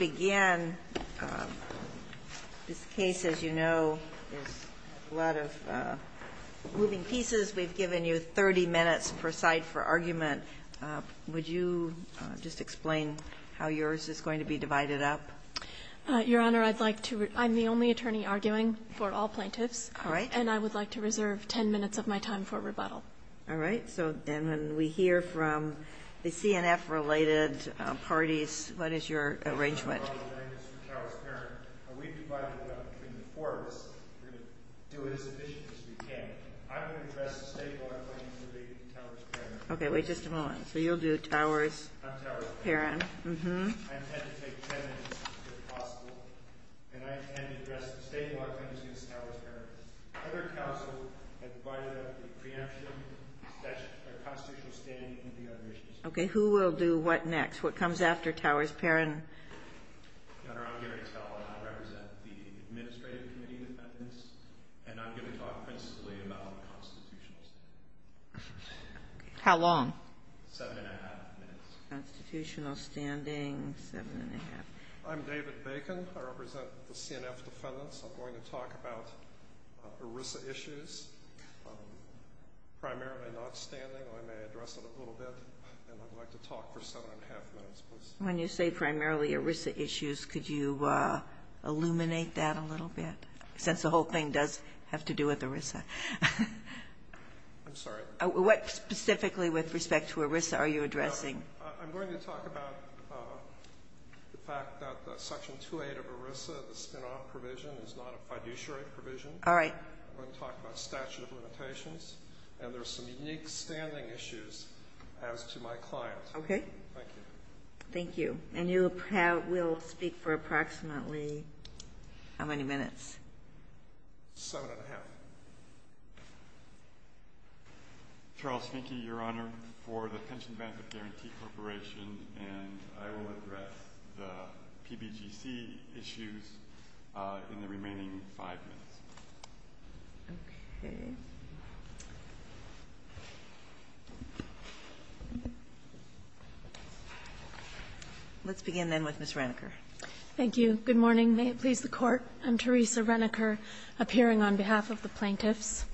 Again, this case, as you know, is a lot of moving pieces. We've given you 30 minutes per side for argument. Would you just explain how yours is going to be divided up? Your Honor, I'm the only attorney arguing for all plaintiffs. And I would like to reserve 10 minutes of my time for rebuttal. All right. And when we hear from the CNF-related parties, what is your arrangement? I'm going to do the Towers-Parents. We've divided it up between the four of us. So it is as efficient as we can. I'm going to address the state law and I'm going to do the Towers-Parents. OK, wait just a moment. So you'll do the Towers-Parents. I'm Towers-Parents. Mm-hmm. I intend to take 10 minutes, if possible. And I intend to address the state law and I'm going to do the Towers-Parents. Other counsels have divided up the preemption, the constitutional standing, and a few other issues. OK. Who will do what next? What comes after Towers-Parents? Senator, I'm going to tell them I represent the Administrative Committee on Defendants. And I'm going to talk principally about the Constitution. How long? Seven and a half minutes. Constitutional standing, seven and a half. I'm David Bacon. I represent the CNF Defendants. I'm going to talk about ERISA issues. I'm primarily not standing. I may address it a little bit. And I'd like to talk for seven and a half minutes, please. When you say primarily ERISA issues, could you illuminate that a little bit? Since the whole thing does have to do with ERISA. I'm sorry. What specifically, with respect to ERISA, are you addressing? I'm going to talk about the fact that Section 2A of ERISA, the spin-off provision, is not a fiduciary provision. All right. I'm going to talk about statute of limitations. And there's some unique standing issues as to my client. Okay. Thank you. Thank you. And you will speak for approximately how many minutes? Seven and a half. Charles Finke, Your Honor, for the Pension Benefit Guarantee Corporation. And I will address the PBGC issues in the remaining five minutes. Okay. Let's begin, then, with Ms. Reneker. Thank you. Good morning. May it please the Court. I'm Teresa Reneker, appearing on behalf of the plaintiffs.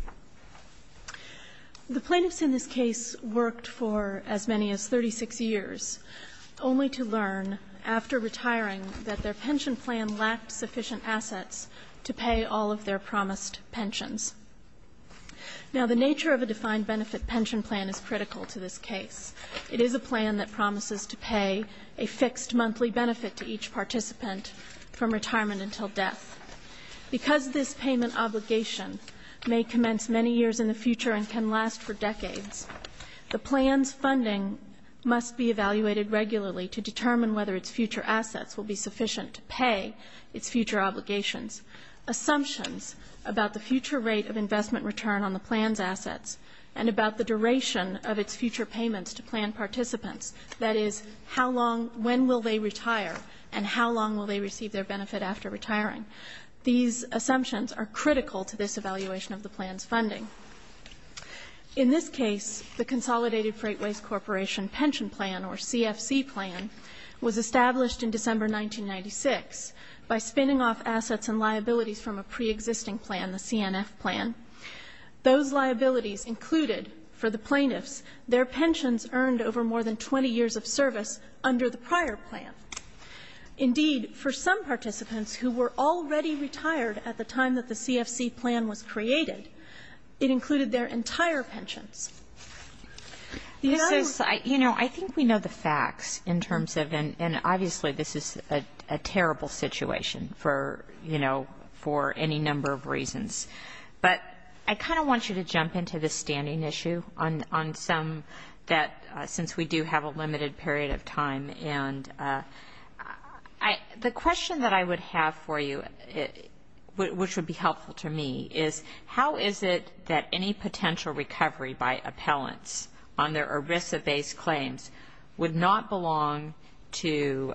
The plaintiffs in this case worked for as many as 36 years, only to learn, after retiring, that their pension plan lacked sufficient assets to pay all of their promised pensions. Now, the nature of a defined benefit pension plan is critical to this case. It is a plan that promises to pay a fixed monthly benefit to each participant from retirement until death. Because this payment obligation may commence many years in the future and can last for decades, the plan's funding must be evaluated regularly to determine whether its future assets will be sufficient to pay its future obligations. Assumptions about the future rate of investment return on the plan's assets and about the duration of its future payments to plan participants, that is, how long, when will they retire, and how long will they receive their benefit after retiring. These assumptions are critical to this evaluation of the plan's funding. In this case, the Consolidated Freightways Corporation pension plan, or CFC plan, was established in December 1996 by spinning off assets and liabilities from a pre-existing plan, the CNF plan. Those liabilities included, for the plaintiffs, their pensions earned over more than 20 years of service under the prior plan. Indeed, for some participants who were already retired at the time that the CFC plan was created, it included their entire pension. You know, I think we know the facts in terms of, and obviously, this is a terrible situation for, you know, for any number of reasons. But I kind of want you to jump into the standing issue on some that, since we do have a limited period of time, and the question that I would have for you, which would be helpful to me, is how is it that any potential recovery by appellants on their ERISA-based claims would not belong to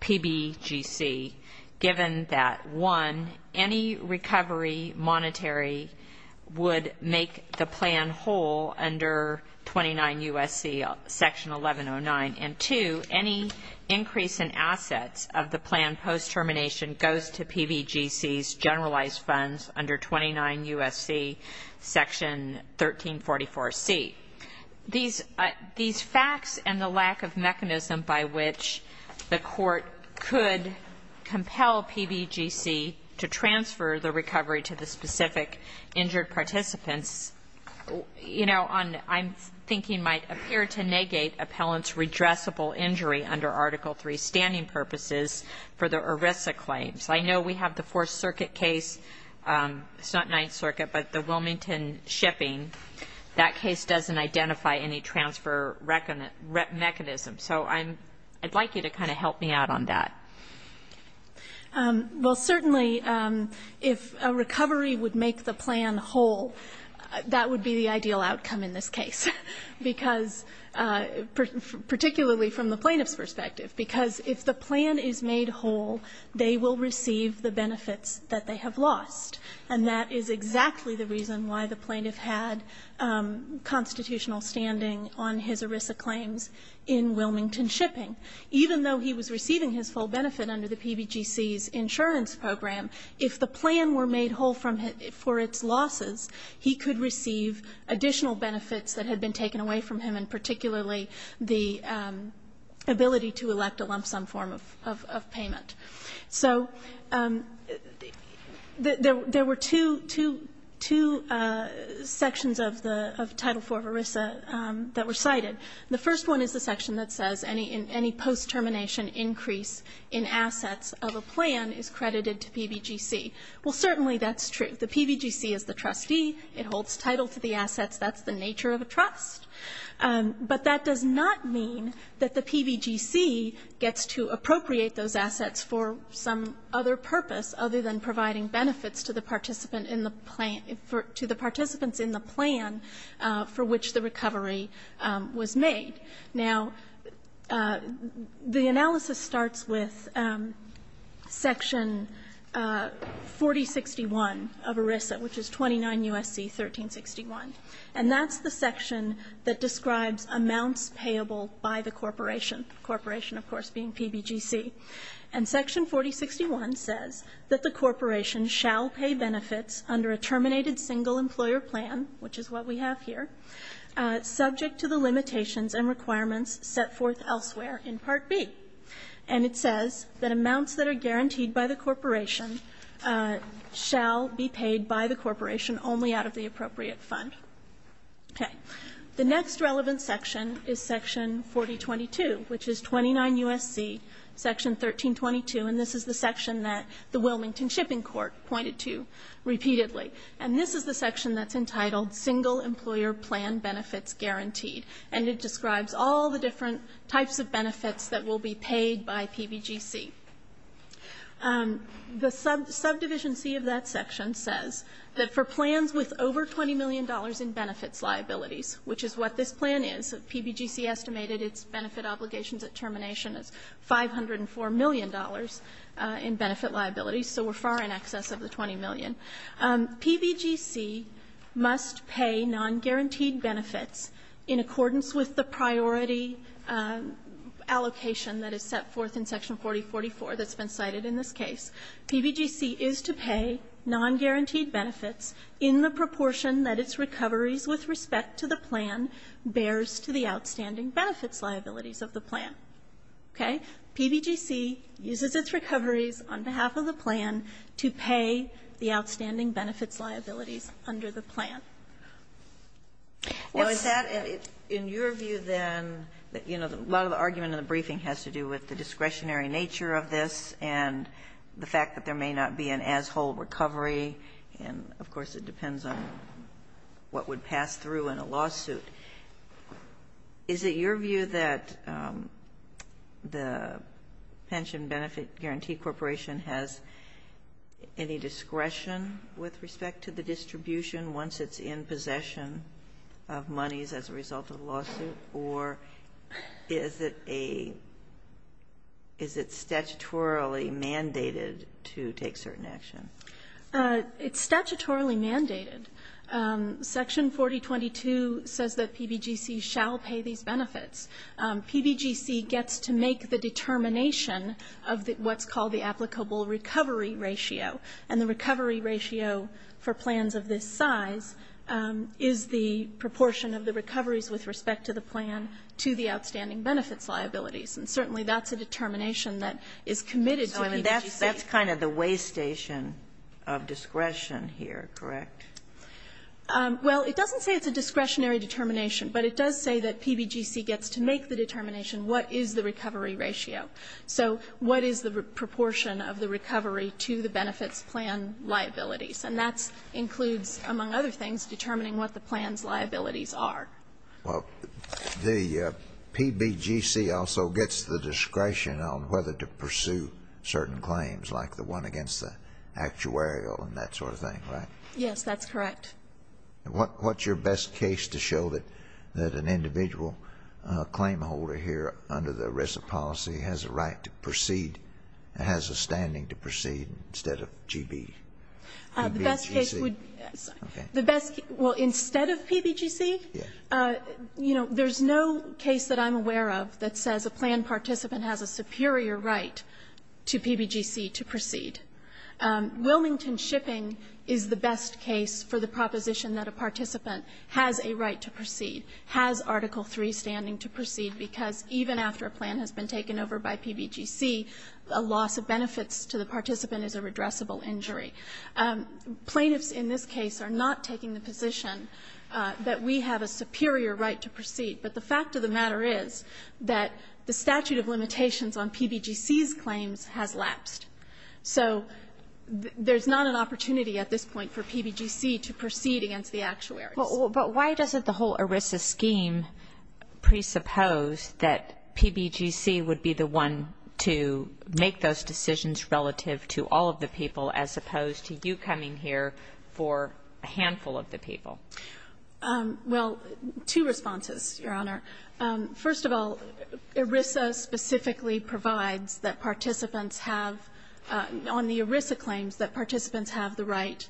PBGC given that, one, any recovery monetary would make the plan whole under 29 U.S.C. section 1109, and two, any increase in assets of the plan post-termination goes to PBGC's generalized funds under 29 U.S.C. section 1344C? These facts and the lack of mechanism by which the court could compel PBGC to transfer the recovery to the specific injured participants, you know, I'm thinking might appear to negate appellants' redressable injury under Article III standing purposes for their ERISA claims. I know we have the Fourth Circuit case, it's not Ninth Circuit, but the Wilmington shipping, that case doesn't identify any transfer mechanism. So I'd like you to kind of help me out on that. Well, certainly, if a recovery would make the plan whole, that would be the ideal outcome in this case, because, particularly from the plaintiff's perspective, because if the plan is made whole, they will receive the benefits that they have lost. And that is exactly the reason why the plaintiff had constitutional standing on his ERISA claims in Wilmington shipping. Even though he was receiving his full benefit under the PBGC's insurance program, if the plan were made whole for its losses, he could receive additional benefits that had been taken away from him, and particularly the ability to elect a lump sum form of payment. So there were two sections of Title IV ERISA that were cited. The first one is the section that says any post-termination increase in assets of a plan is credited to PBGC. Well, certainly that's true. The PBGC is the trustee. It holds title to the assets. That's the nature of a trust. But that does not mean that the PBGC gets to appropriate those assets for some other purpose other than providing benefits to the participants in the plan for which the recovery was made. Now, the analysis starts with Section 4061 of ERISA, which is 29 U.S.C. 1361. And that's the section that describes amounts payable by the corporation, the corporation, of course, being PBGC. And Section 4061 says that the corporation shall pay benefits under a terminated single employer plan, which is what we have here, subject to the limitations and requirements set forth elsewhere in Part B. And it says that amounts that are guaranteed by the corporation shall be paid by the corporation only out of the appropriate fund. Okay. The next relevant section is Section 4022, which is 29 U.S.C. Section 1322. And this is the section that the Wilmington Shipping Court pointed to repeatedly. And this is the section that's entitled Single Employer Plan Benefits Guaranteed. And it describes all the different types of benefits that will be paid by PBGC. The subdivision C of that section says that for plans with over $20 million in benefits liabilities, which is what this plan is, PBGC estimated its benefit obligation determination as $504 million in benefit liabilities, so we're far in excess of the $20 million. PBGC must pay non-guaranteed benefits in accordance with the priority allocation that is set forth in Section 4044 that's been cited in this case. PBGC is to pay non-guaranteed benefits in the proportion that its recovery with respect to the plan bears to the outstanding benefits liabilities of the plan. Okay? PBGC uses its recoveries on behalf of the plan to pay the outstanding benefits liabilities under the plan. Well, is that, in your view then, you know, a lot of the argument in the briefing has to do with the discretionary nature of this and the fact that there may not be an as-whole recovery. And, of course, it depends on what would pass through in a lawsuit. Is it your view that the Pension Benefit Guarantee Corporation has any discretion with respect to the distribution once it's in possession of monies as a result of a lawsuit, or is it statutorily mandated to take certain action? It's statutorily mandated. Section 4022 says that PBGC shall pay these benefits. PBGC gets to make the determination of what's called the applicable recovery ratio. And the recovery ratio for plans of this size is the proportion of the recoveries with respect to the plan to the outstanding benefits liabilities. And certainly that's a determination that is committed by PBGC. That's kind of the waystation of discretion here, correct? Well, it doesn't say it's a discretionary determination, but it does say that PBGC gets to make the determination what is the recovery ratio. So what is the proportion of the recovery to the benefits plan liabilities? And that includes, among other things, determining what the plan's liabilities are. Well, the PBGC also gets the discretion on whether to pursue certain claims, like the one against the actuarial and that sort of thing, right? Yes, that's correct. What's your best case to show that an individual claimholder here under the risk policy has a right to proceed, has a standing to proceed, instead of PBGC? The best case would be... Well, instead of PBGC, there's no case that I'm aware of that says a plan participant has a superior right to PBGC to proceed. Wilmington shipping is the best case for the proposition that a participant has a right to proceed, has Article III standing to proceed, because even after a plan has been taken over by PBGC, a loss of benefits to the participant is a redressable injury. that we have a superior right to proceed, but the fact of the matter is that the statute of limitations on PBGC's claims has lapsed. So there's not an opportunity at this point for PBGC to proceed against the actuary. But why doesn't the whole ERISA scheme presuppose that PBGC would be the one to make those decisions relative to all of the people, as opposed to you coming here for a handful of the people? Well, two responses, Your Honor. First of all, ERISA specifically provides that participants have, on the ERISA claims, that participants have the right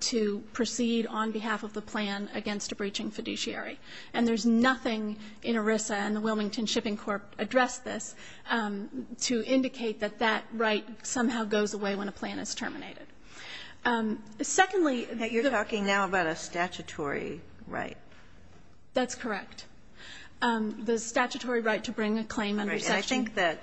to proceed on behalf of the plan against a breaching fiduciary. And there's nothing in ERISA, and the Wilmington Shipping Corp addressed this, to indicate that that right somehow goes away when a plan is terminated. Secondly... You're talking now about a statutory right. That's correct. The statutory right to bring the claim under section... I think that,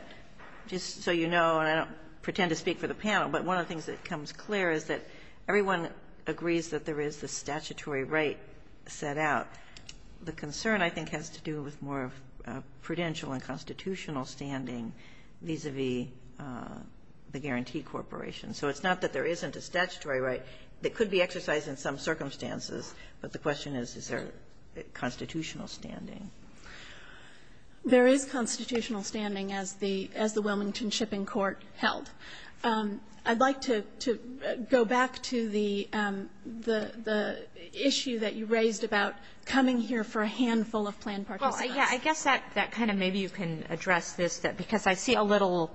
just so you know, and I don't pretend to speak for the panel, but one of the things that comes clear is that everyone agrees that there is a statutory right set out. The concern, I think, has to do with more of a prudential and constitutional standing vis-à-vis the guarantee corporation. So it's not that there isn't a statutory right that could be exercised in some circumstances, but the question is, is there constitutional standing? There is constitutional standing, as the Wilmington Shipping Corp held. I'd like to go back to the issue that you raised about coming here for a handful of plan participants. Well, yeah, I guess that kind of maybe you can address this, because I see a little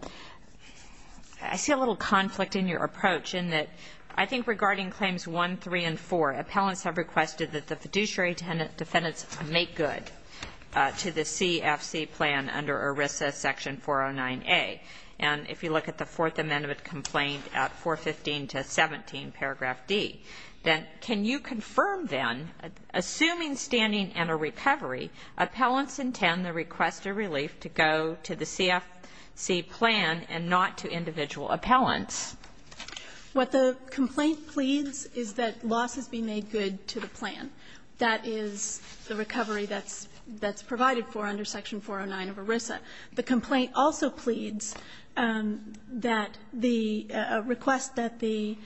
conflict in your approach in that I think regarding Claims 1, 3, and 4, appellants have requested that the fiduciary defendants make good to the CFC plan under ERISA Section 409A. And if you look at the Fourth Amendment complaint at 415 to 17, paragraph D, that can you confirm then, assuming standing and a recovery, appellants intend to request a relief to go to the CFC plan and not to individual appellants? What the complaint pleads is that loss be made good to the plan. That is the recovery that's provided for under Section 409 of ERISA. The complaint also pleads that the request that the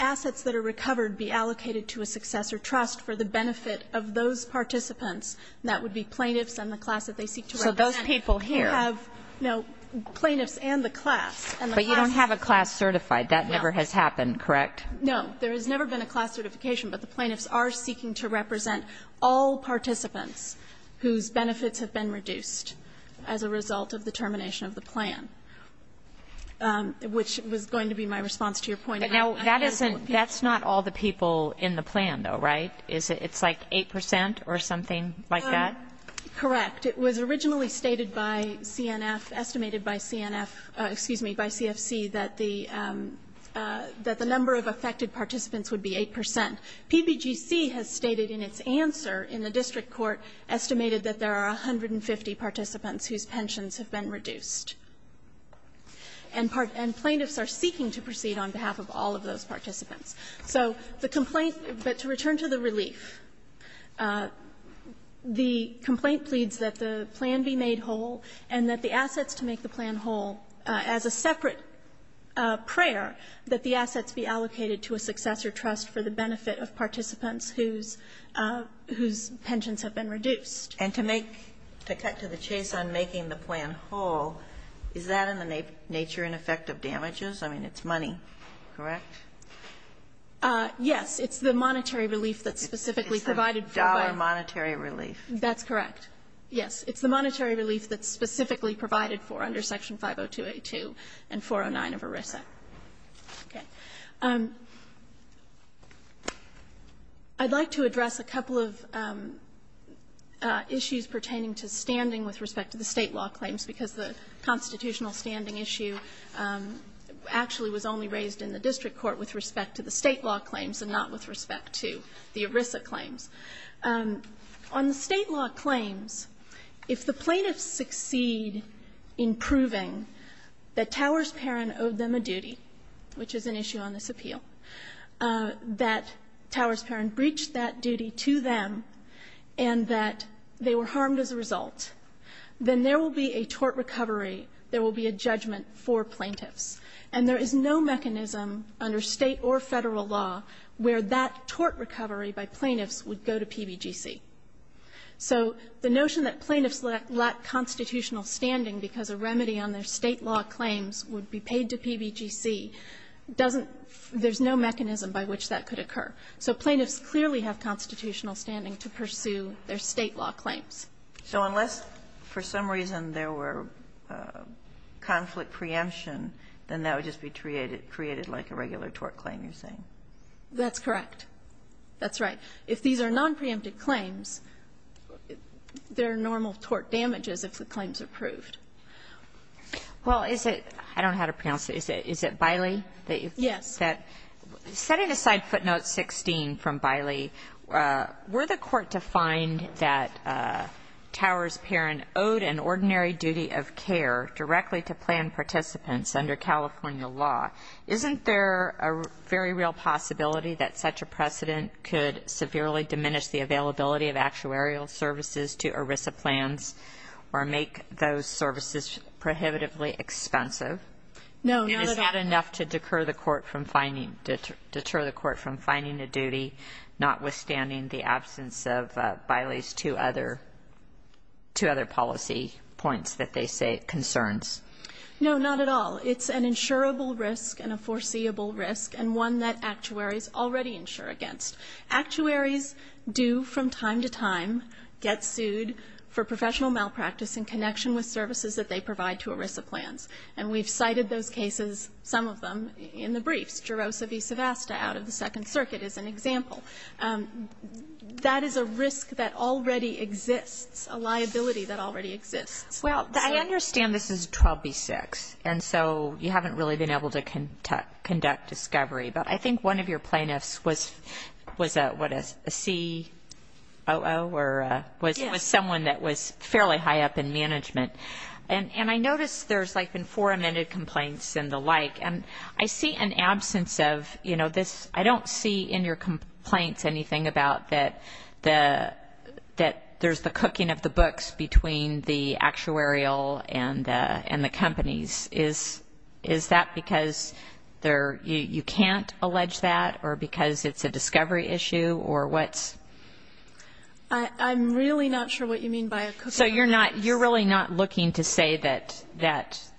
assets that are recovered be allocated to a successor trust for the benefit of those participants, and that would be plaintiffs and the class that they seek to represent. So those people here? No, plaintiffs and the class. But you don't have a class certified. That never has happened, correct? No, there has never been a class certification, but the plaintiffs are seeking to represent all participants whose benefits have been reduced as a result of the termination of the plan, which was going to be my response to your point. That's not all the people in the plan though, right? It's like 8% or something like that? Correct. It was originally estimated by CFC that the number of affected participants would be 8%. PBGC has stated in its answer in the district court, estimated that there are 150 participants whose pensions have been reduced. And plaintiffs are speaking to proceed on behalf of all of those participants. So the complaint is that to return to the relief, the complaint pleads that the plan be made whole and that the assets to make the plan whole as a separate prayer that the assets be allocated to a successor trust for the benefit of participants whose pensions have been reduced. And to make a cut to the chase on making the plan whole, is that in the nature and effect of damages? I mean, it's money, correct? Yes, it's the monetary relief that's specifically provided. It's a dollar monetary relief. That's correct. Yes, it's the monetary relief that's specifically provided for under Section 502A2 and 409 of ERISA. Okay. I'd like to address a couple of issues pertaining to standing with respect to the state law claims because the constitutional standing issue actually was only raised in the district court with respect to the state law claims and not with respect to the ERISA claims. On the state law claims, if the plaintiffs succeed in proving that Towers Perrin owed them a duty, which is an issue on this appeal, that Towers Perrin breached that duty to them and that they were harmed as a result, then there will be a tort recovery, there will be a judgment for plaintiffs. And there is no mechanism under state or federal law where that tort recovery by plaintiffs would go to PBGC. So the notion that plaintiffs lack constitutional standing because a remedy on their state law claims would be paid to PBGC doesn't... There's no mechanism by which that could occur. So plaintiffs clearly have constitutional standing to pursue their state law claims. So unless for some reason there were conflict preemption, then that would just be created like a regular tort claim, you're saying? That's correct. That's right. If these are non-preemptive claims, there are normal tort damages if the claim's approved. Well, is it... I don't know how to pronounce it. Is it Bylie that you said? Yes. Setting aside footnote 16 from Bylie, were the court to find that Towers Perrin owed an ordinary duty of care directly to planned participants under California law, isn't there a very real possibility that such a precedent could severely diminish the availability of actuarial services to ERISA plans or make those services prohibitively expensive? No, not at all. Is that enough to deter the court from finding a duty, notwithstanding the absence of Bylie's two other policy points that they say it concerns? No, not at all. It's an insurable risk and a foreseeable risk and one that actuaries already insure against. Actuaries do, from time to time, get sued for professional malpractice in connection with services that they provide to ERISA plans, and we've cited those cases, some of them, in the brief. Jerosa v. Sevasta out of the Second Circuit is an example. That is a risk that already exists, a liability that already exists. Well, I understand this is 12b-6, and so you haven't really been able to conduct discovery, but I think one of your plaintiffs was a COO or was someone that was fairly high up in management, and I noticed there's, like, been four amended complaints and the like, and I see an absence of, you know, this. I don't see in your complaints anything about that there's the cooking of the books between the actuarial and the companies. Is that because you can't allege that or because it's a discovery issue or what? I'm really not sure what you mean by a cooking. So you're really not looking to say that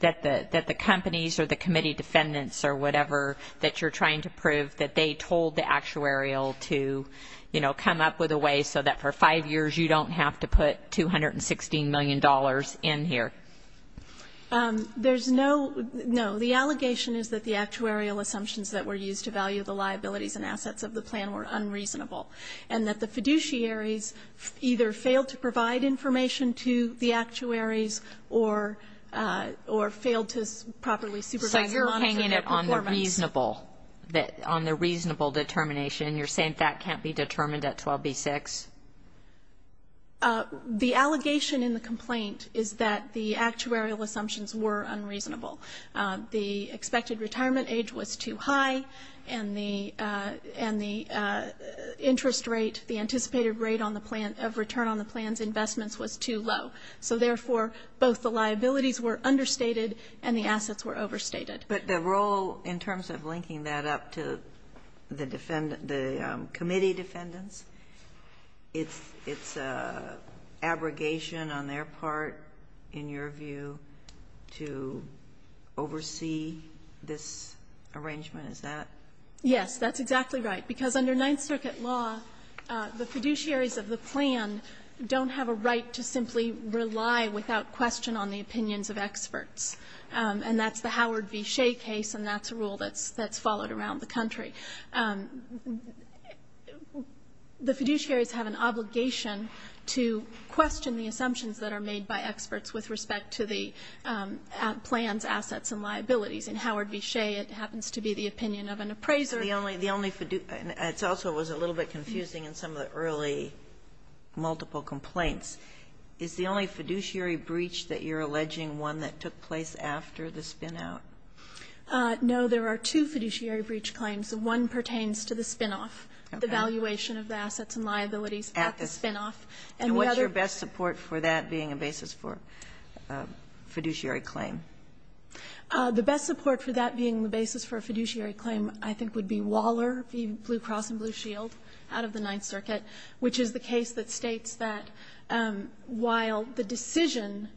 the companies or the committee defendants or whatever that you're trying to prove that they told the actuarial to, you know, come up with a way so that for five years you don't have to put $216 million in here? There's no...no. The allegation is that the actuarial assumptions that were used to value the liabilities and assets of the plan were unreasonable and that the fiduciaries either failed to provide information to the actuaries or failed to properly supervise... So your opinion is on the reasonable determination, and you're saying that can't be determined at 12b-6? The allegation in the complaint is that the actuarial assumptions were unreasonable. The expected retirement age was too high and the interest rate, the anticipated rate of return on the plan's investments was too low. So therefore, both the liabilities were understated and the assets were overstated. But the role in terms of linking that up to the committee defendants, it's abrogation on their part, in your view, to oversee this arrangement, is that...? Yes, that's exactly right, because under Ninth Circuit law, the fiduciaries of the plan don't have a right to simply rely without question on the opinions of experts. And that's the Howard v. Shea case, and that's a rule that's followed around the country. The fiduciaries have an obligation to question the assumptions that are made by experts with respect to the plan's assets and liabilities. In Howard v. Shea, it happens to be the opinion of an appraiser. It also was a little bit confusing in some of the early multiple complaints. Is the only fiduciary breach that you're alleging one that took place after the spin-out? No, there are two fiduciary breach claims. One pertains to the spin-off, the valuation of the assets and liabilities after spin-off. And what's your best support for that being a basis for a fiduciary claim? The best support for that being the basis for a fiduciary claim, I think, would be Waller v. Blue Cross and Blue Shield, out of the Ninth Circuit, which is the case that states that while the decision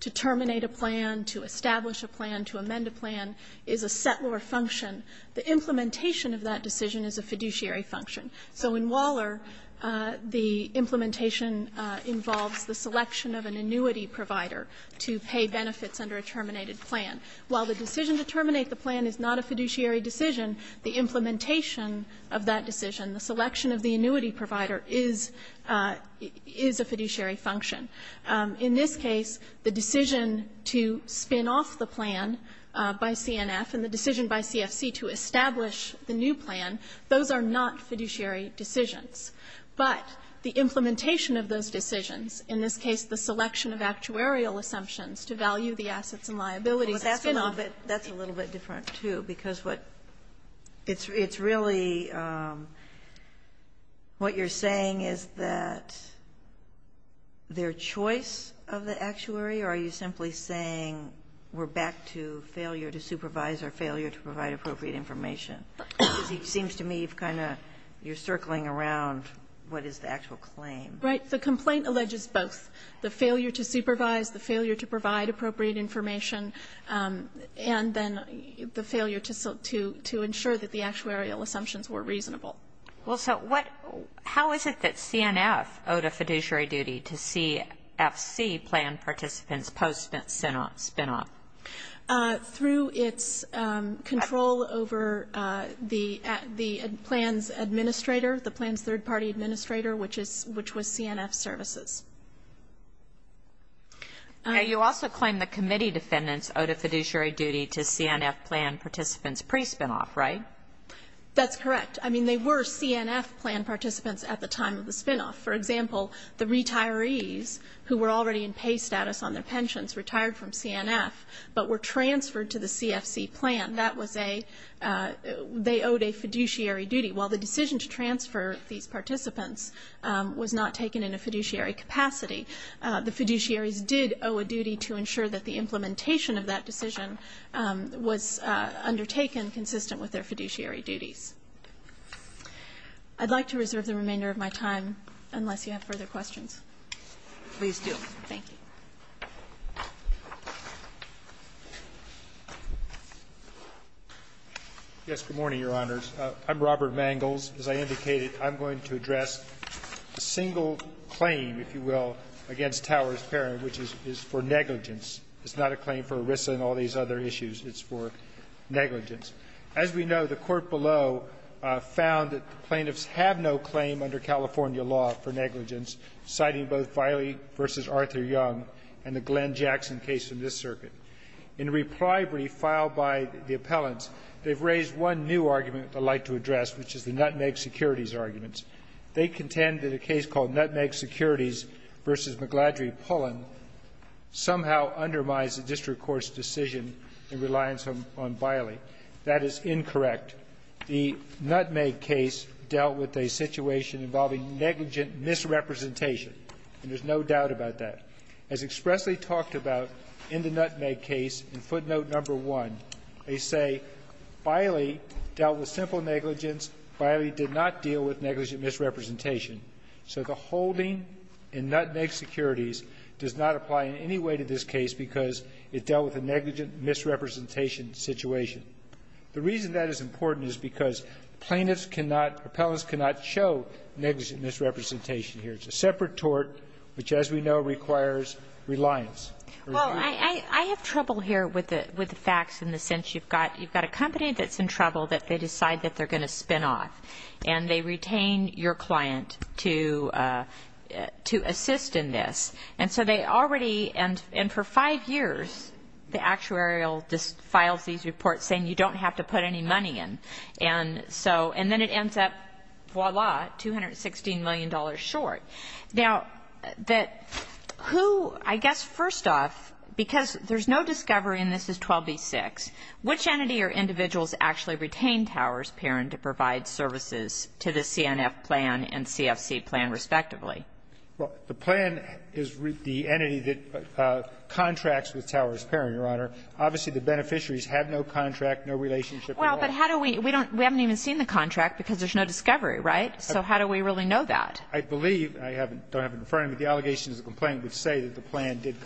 to terminate a plan, to establish a plan, to amend a plan is a set or a function, the implementation of that decision is a fiduciary function. So in Waller, the implementation involves the selection of an annuity provider to pay benefits under a terminated plan. While the decision to terminate the plan is not a fiduciary decision, the implementation of that decision, the selection of the annuity provider, is a fiduciary function. In this case, the decision to spin-off the plan by CNF and the decision by CFC to establish the new plan, those are not fiduciary decisions. But the implementation of those decisions, in this case the selection of actuarial assumptions to value the assets and liabilities after spin-off... That's a little bit different, too, because what you're saying is that their choice of the actuary, or are you simply saying we're back to failure to supervise or failure to provide appropriate information? It seems to me you're circling around what is the actual claim. Right. The complaint alleges both. The failure to supervise, the failure to provide appropriate information, and then the failure to ensure that the actuarial assumptions were reasonable. How is it that CNF owed a fiduciary duty to CFC plan participants post-spin-off? Through its control over the plan's administrator, the plan's third-party administrator, which was CNF Services. You also claim the committee defendants owed a fiduciary duty to CNF plan participants pre-spin-off, right? That's correct. I mean, they were CNF plan participants at the time of the spin-off. For example, the retirees, who were already in paid status on their pensions, retired from CNF but were transferred to the CFC plan. They owed a fiduciary duty. Well, the decision to transfer these participants was not taken in a fiduciary capacity. The fiduciaries did owe a duty to ensure that the implementation of that decision was undertaken consistent with their fiduciary duties. I'd like to reserve the remainder of my time, unless you have further questions. Please do. Thank you. Yes, good morning, Your Honors. I'm Robert Mangels. As I indicated, I'm going to address a single claim, if you will, against Towers-Perrin, which is for negligence. It's not a claim for ERISA and all these other issues. It's for negligence. As we know, the court below found that the plaintiffs have no claim under California law for negligence, citing both Biley v. Arthur Young and the Glenn Jackson case in this circuit. In a reprieve filed by the appellants, they've raised one new argument they'd like to address, which is the Nutmeg Securities arguments. They contend that a case called Nutmeg Securities v. McGladrey Pullum somehow undermines the district court's decision in reliance on Biley. That is incorrect. The Nutmeg case dealt with a situation involving negligent misrepresentation, and there's no doubt about that. As expressly talked about in the Nutmeg case, in footnote number one, they say, Biley dealt with simple negligence. Biley did not deal with negligent misrepresentation. So the holding in Nutmeg Securities does not apply in any way to this case because it dealt with a negligent misrepresentation situation. The reason that is important is because plaintiffs cannot, appellants cannot show negligent misrepresentation here. It's a separate tort, which, as we know, requires reliance. I have trouble here with the facts in the sense you've got a company that's in trouble that they decide that they're going to spin off, and they retain your client to assist in this. And so they already, and for five years, the actuarial just files these reports saying you don't have to put any money in. And then it ends up, voila, $216 million short. Now, who, I guess, first off, because there's no discovery, and this is 12B-6, which entity or individuals actually retain Towers-Perrin to provide services to the CNF plan and CFC plan, respectively? Well, the plan is the entity that contracts with Towers-Perrin, Your Honor. Obviously, the beneficiaries had no contract, no relationship at all. Well, but how do we, we haven't even seen the contract because there's no discovery, right? So how do we really know that? I believe, and I don't have it in front of me, but the allegations of the plan would say that the plan did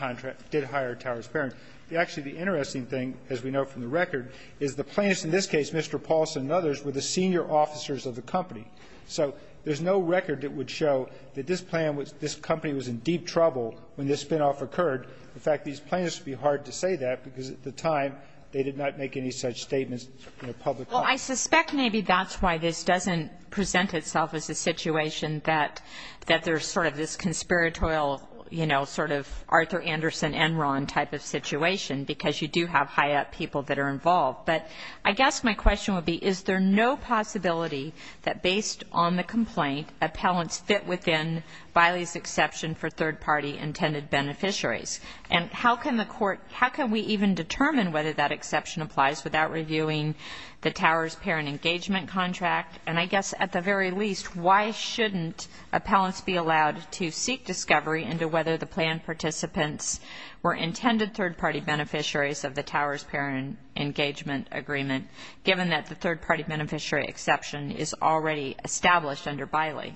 hire Towers-Perrin. Actually, the interesting thing, as we know from the record, is the plaintiffs, in this case, Mr. Paulson and others, were the senior officers of the company. So there's no record that would show that this company was in deep trouble when this spinoff occurred. In fact, these plaintiffs would be hard to say that because, at the time, they did not make any such statements in the public. Well, I suspect maybe that's why this doesn't present itself as a situation that there's sort of this conspiratorial, you know, sort of Arthur Anderson Enron type of situation because you do have high-up people that are involved. But I guess my question would be, is there no possibility that, based on the complaint, the talents fit within Biley's exception for third-party intended beneficiaries? And how can the court, how can we even determine whether that exception applies without reviewing the Towers-Perrin engagement contract? And I guess, at the very least, why shouldn't appellants be allowed to seek discovery into whether the planned participants were intended third-party beneficiaries of the Towers-Perrin engagement agreement given that the third-party beneficiary exception is already established under Biley?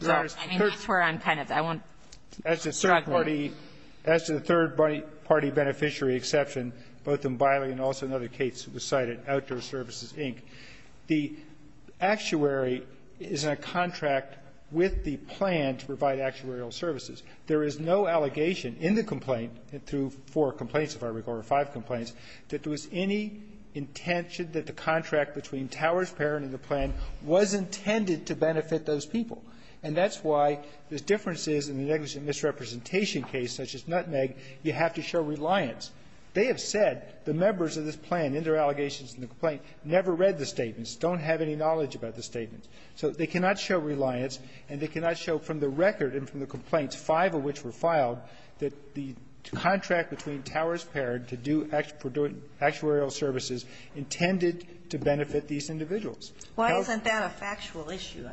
And that's where I'm kind of... As to the third-party beneficiary exception, both in Biley and also in other cases beside it, Outdoor Services, Inc., the actuary is in a contract with the plan to provide actuarial services. There is no allegation in the complaint, through four complaints, if I recall, or five complaints, that there was any intention that the contract between Towers-Perrin and the plan was intended to benefit those people. And that's why the difference is, in the negligent misrepresentation case, such as Nutmeg, you have to show reliance. They have said, the members of this plan, in their allegations and the complaint, never read the statements, don't have any knowledge about the statements. So they cannot show reliance, and they cannot show from the record and from the complaints, five of which were filed, that the contract between Towers-Perrin to do actuarial services intended to benefit these individuals. Why isn't that a factual issue?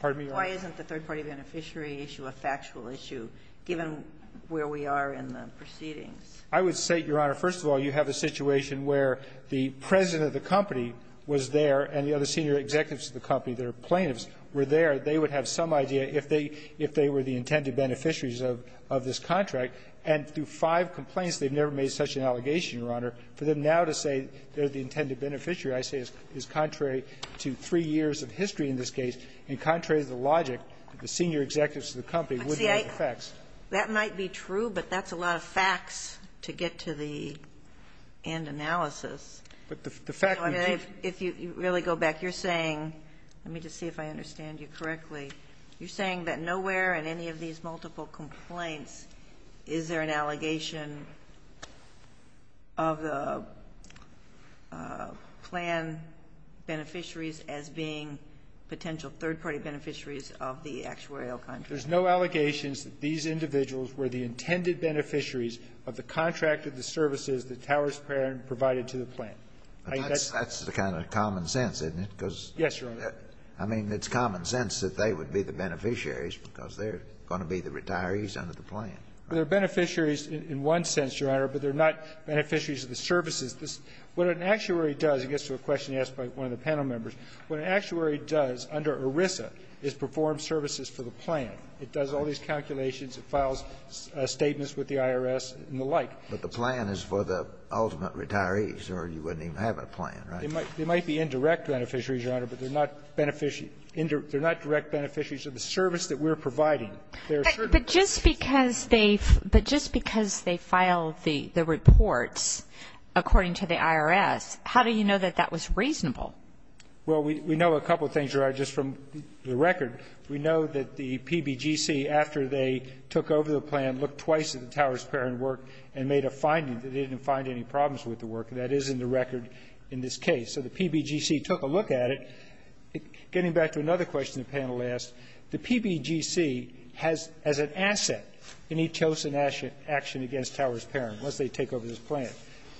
Pardon me, Your Honor? Why isn't the third-party beneficiary issue a factual issue, given where we are in the proceedings? I would say, Your Honor, first of all, you have a situation where the president of the company was there, and the other senior executives of the company, their plaintiffs, were there. They would have some idea if they were the intended beneficiaries of this contract. And through five complaints, they've never made such an allegation, Your Honor. For them now to say they're the intended beneficiary, I say is contrary to three years of history in this case, and contrary to the logic, the senior executives of the company would know the facts. That might be true, but that's a lot of facts to get to the end analysis. If you really go back, you're saying, let me just see if I understand you correctly, you're saying that nowhere in any of these multiple complaints is there an allegation of the plan beneficiaries as being potential third-party beneficiaries of the actuarial contract. There's no allegations that these individuals were the intended beneficiaries of the contract of the services that Towers Parent provided to the plan. That's the kind of common sense, isn't it? Yes, Your Honor. I mean, it's common sense that they would be the beneficiaries because they're going to be the retirees under the plan. They're beneficiaries in one sense, Your Honor, but they're not beneficiaries of the services. What an actuary does, it gets to a question asked by one of the panel members, what an actuary does under ERISA is perform services for the plan. It does all these calculations, it files statements with the IRS and the like. But the plan is for the ultimate retirees or you wouldn't even have a plan, right? They might be indirect beneficiaries, Your Honor, but they're not direct beneficiaries of the service that we're providing. But just because they filed the report according to the IRS, how do you know that that was reasonable? Well, we know a couple of things just from the record. We know that the PBGC, after they took over the plan, looked twice at the Towers-Perrin work and made a finding that they didn't find any problems with the work, and that is in the record in this case. So the PBGC took a look at it. Getting back to another question the panel asked, the PBGC has as an asset any chosen action against Towers-Perrin once they take over this plan.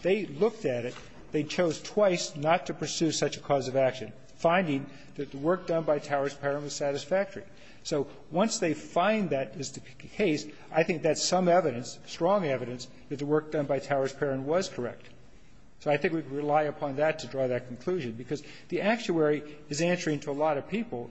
They looked at it. They chose twice not to pursue such a cause of action, finding that the work done by Towers-Perrin was satisfactory. So once they find that is the case, I think that's some evidence, strong evidence, that the work done by Towers-Perrin was correct. So I think we can rely upon that to draw that conclusion because the actuary is answering to a lot of people.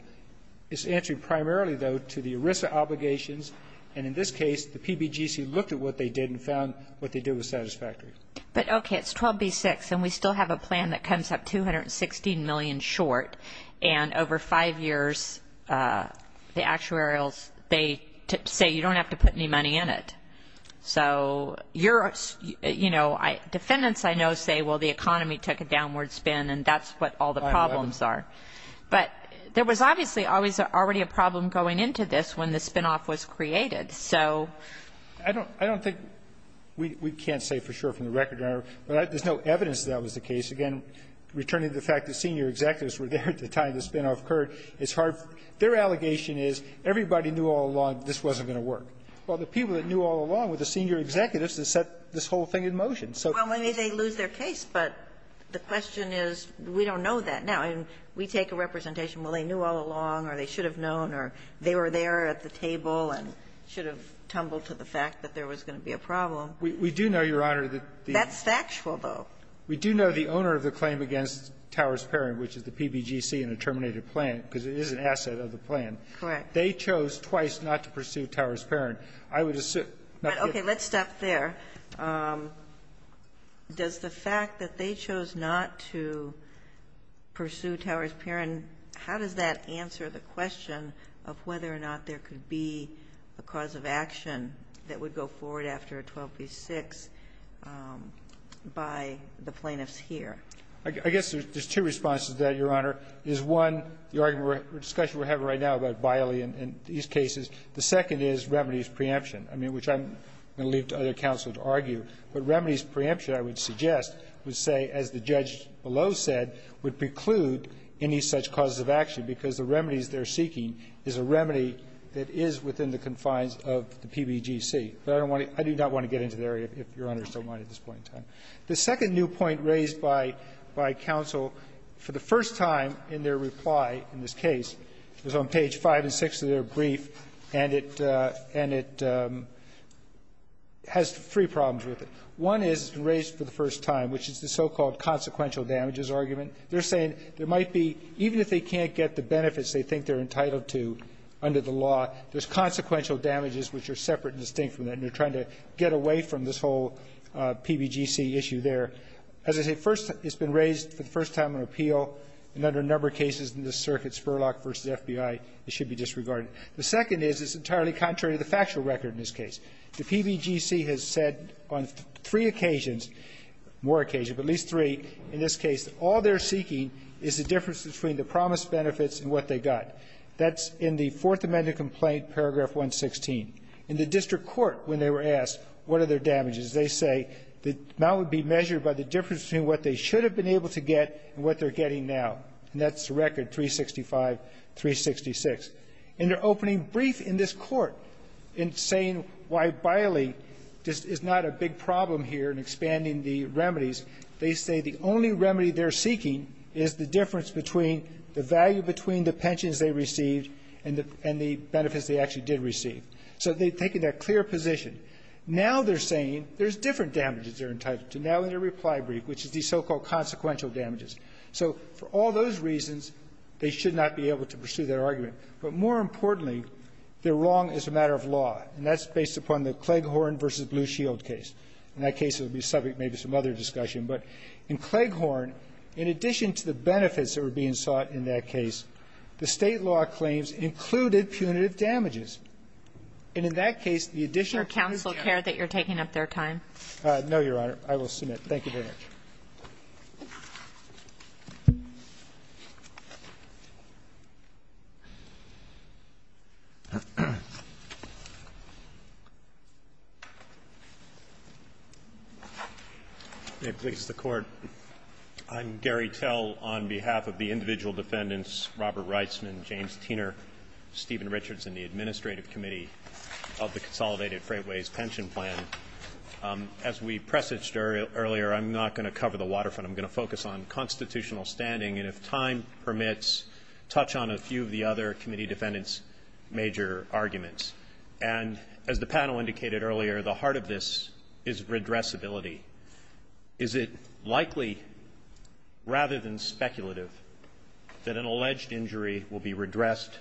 It's answering primarily, though, to the ERISA obligations, and in this case the PBGC looked at what they did and found what they did was satisfactory. But, okay, it's 12B-6, and we still have a plan that comes up $216 million short, and over five years the actuarials, they say you don't have to put any money in it. So defendants I know say, well, the economy took a downward spin, and that's what all the problems are. But there was obviously already a problem going into this when the spinoff was created. I don't think we can say for sure from the record. There's no evidence that that was the case. Again, returning to the fact that senior executives were there at the time the spinoff occurred, their allegation is everybody knew all along this wasn't going to work. Well, the people that knew all along were the senior executives that set this whole thing in motion. Well, maybe they lose their case, but the question is we don't know that now. We take a representation, well, they knew all along, or they should have known, or they were there at the table and should have tumbled to the fact that there was going to be a problem. We do know, Your Honor. That's factual, though. We do know the owner of the claim against Towers-Perrin, which is the PBGC in the terminated plan, because it is an asset of the plan. Correct. They chose twice not to pursue Towers-Perrin. Okay, let's stop there. Does the fact that they chose not to pursue Towers-Perrin, how does that answer the question of whether or not there could be a cause of action that would go forward after a 12 v. 6 by the plaintiffs here? I guess there's two responses to that, Your Honor. There's one, the argument we're having right now about Biley and these cases. The second is remedies preemption, which I'm going to leave to other counsel to argue. But remedies preemption, I would suggest, would say, as the judge below said, would preclude any such cause of action because the remedies they're seeking is a remedy that is within the confines of the PBGC. I do not want to get into that area, Your Honor, so I won't at this point in time. The second new point raised by counsel for the first time in their reply in this case was on page 5 and 6 of their brief, and it has three problems with it. One is raised for the first time, which is the so-called consequential damages argument. They're saying there might be, even if they can't get the benefits they think they're entitled to under the law, there's consequential damages which are separate and distinct from that, and they're trying to get away from this whole PBGC issue there. As I say, first, it's been raised for the first time in an appeal, and under a number of cases in this circuit, Spurlock v. FBI, it should be disregarded. The second is it's entirely contrary to the factual record in this case. The PBGC has said on three occasions, more occasions, but at least three, in this case, all they're seeking is the difference between the promised benefits and what they got. That's in the Fourth Amendment complaint, paragraph 116. In the district court, when they were asked what are their damages, they say the amount would be measured by the difference between what they should have been able to get and what they're getting now, and that's the record, 365-366. In their opening brief in this court, in saying why biling is not a big problem here in expanding the remedies, they say the only remedy they're seeking is the difference between the value between the pensions they received and the benefits they actually did receive. So they've taken that clear position. Now they're saying there's different damages they're entitled to now in their reply brief, which is these so-called consequential damages. So for all those reasons, they should not be able to pursue their argument, but more importantly, they're wrong as a matter of law, and that's based upon the Clegg-Horne v. Blue Shield case. In that case, it would be subject to maybe some other discussion. But in Clegg-Horne, in addition to the benefits that were being sought in that case, the state law claims included punitive damages. And in that case, the addition of punitive damages... Is there accountable care that you're taking up their time? No, Your Honor. I will submit. Thank you very much. May it please the Court. I'm Gary Tell on behalf of the individual defendants, Robert Reisman, James Teener, Stephen Richardson, the Administrative Committee of the Consolidated Freightways Pension Plan. As we presaged earlier, I'm not going to cover the waterfront. I'm going to focus on constitutional standing, and if time permits, touch on a few of the other committee defendants' major arguments. And as the panel indicated earlier, the heart of this is redressability. Is it likely, rather than speculative, that an alleged injury will be redressed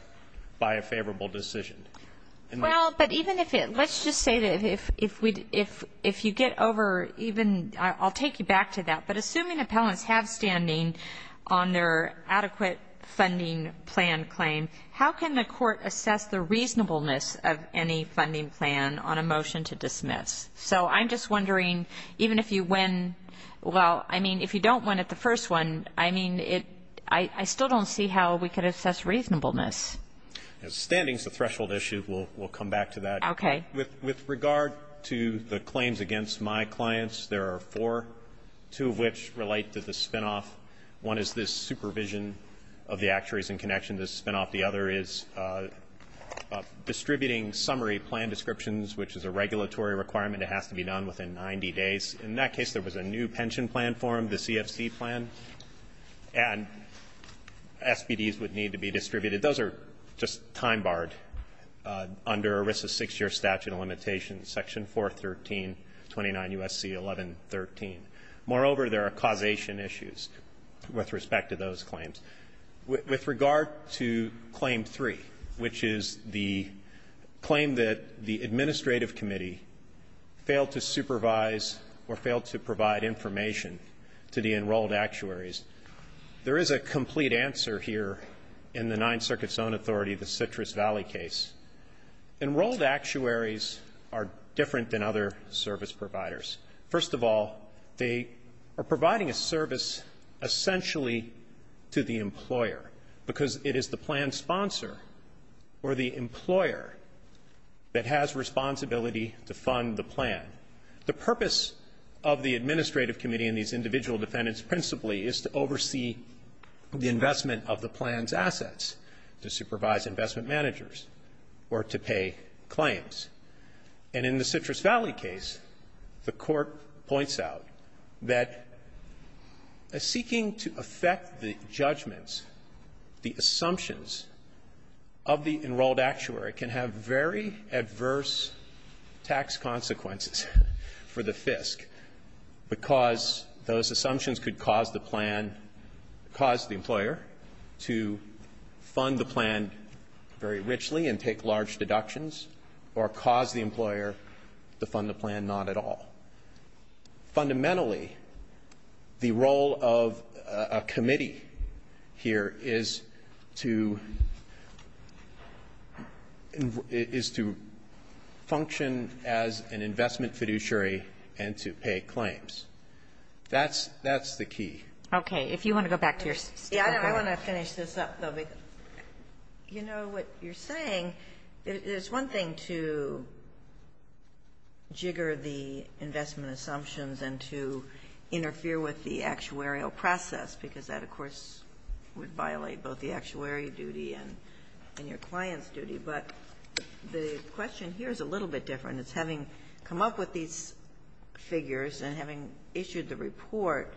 by a favorable decision? Well, but even if it... Let's just say that if you get over even... I'll take you back to that. But assuming appellants have standing on their adequate funding plan claim, how can the Court assess the reasonableness of any funding plan on a motion to dismiss? So I'm just wondering, even if you win... Well, I mean, if you don't win at the first one, I mean, I still don't see how we could assess reasonableness. Standing is a threshold issue. We'll come back to that. Okay. With regard to the claims against my clients, there are four, two of which relate to the spinoff. One is this supervision of the actuaries in connection to the spinoff. The other is distributing summary plan descriptions, which is a regulatory requirement. It has to be done within 90 days. In that case, there was a new pension plan formed, the CSD plan, and SPDs would need to be distributed. Those are just time-barred under ERISA's six-year statute of limitations, Section 41329 U.S.C. 1113. Moreover, there are causation issues with respect to those claims. With regard to Claim 3, which is the claim that the administrative committee failed to supervise or failed to provide information to the enrolled actuaries, there is a complete answer here in the Ninth Circuit's own authority, the Citrus Valley case. Enrolled actuaries are different than other service providers. First of all, they are providing a service essentially to the employer because it is the plan sponsor or the employer that has responsibility to fund the plan. The purpose of the administrative committee and these individual defendants principally is to oversee the investment of the plan's assets, to supervise investment managers, or to pay claims. And in the Citrus Valley case, the court points out that seeking to affect the judgments, the assumptions of the enrolled actuary can have very adverse tax consequences for the FISC because those assumptions could cause the employer to fund the plan very richly and take large deductions or cause the employer to fund the plan not at all. Fundamentally, the role of a committee here is to function as an investment fiduciary and to pay claims. That's the key. Okay. If you want to go back to your... Yeah, I want to finish this up though. You know, what you're saying, it's one thing to jigger the investment assumptions and to interfere with the actuarial process because that, of course, would violate both the actuary duty and your client's duty. But the question here is a little bit different. It's having come up with these figures and having issued the report,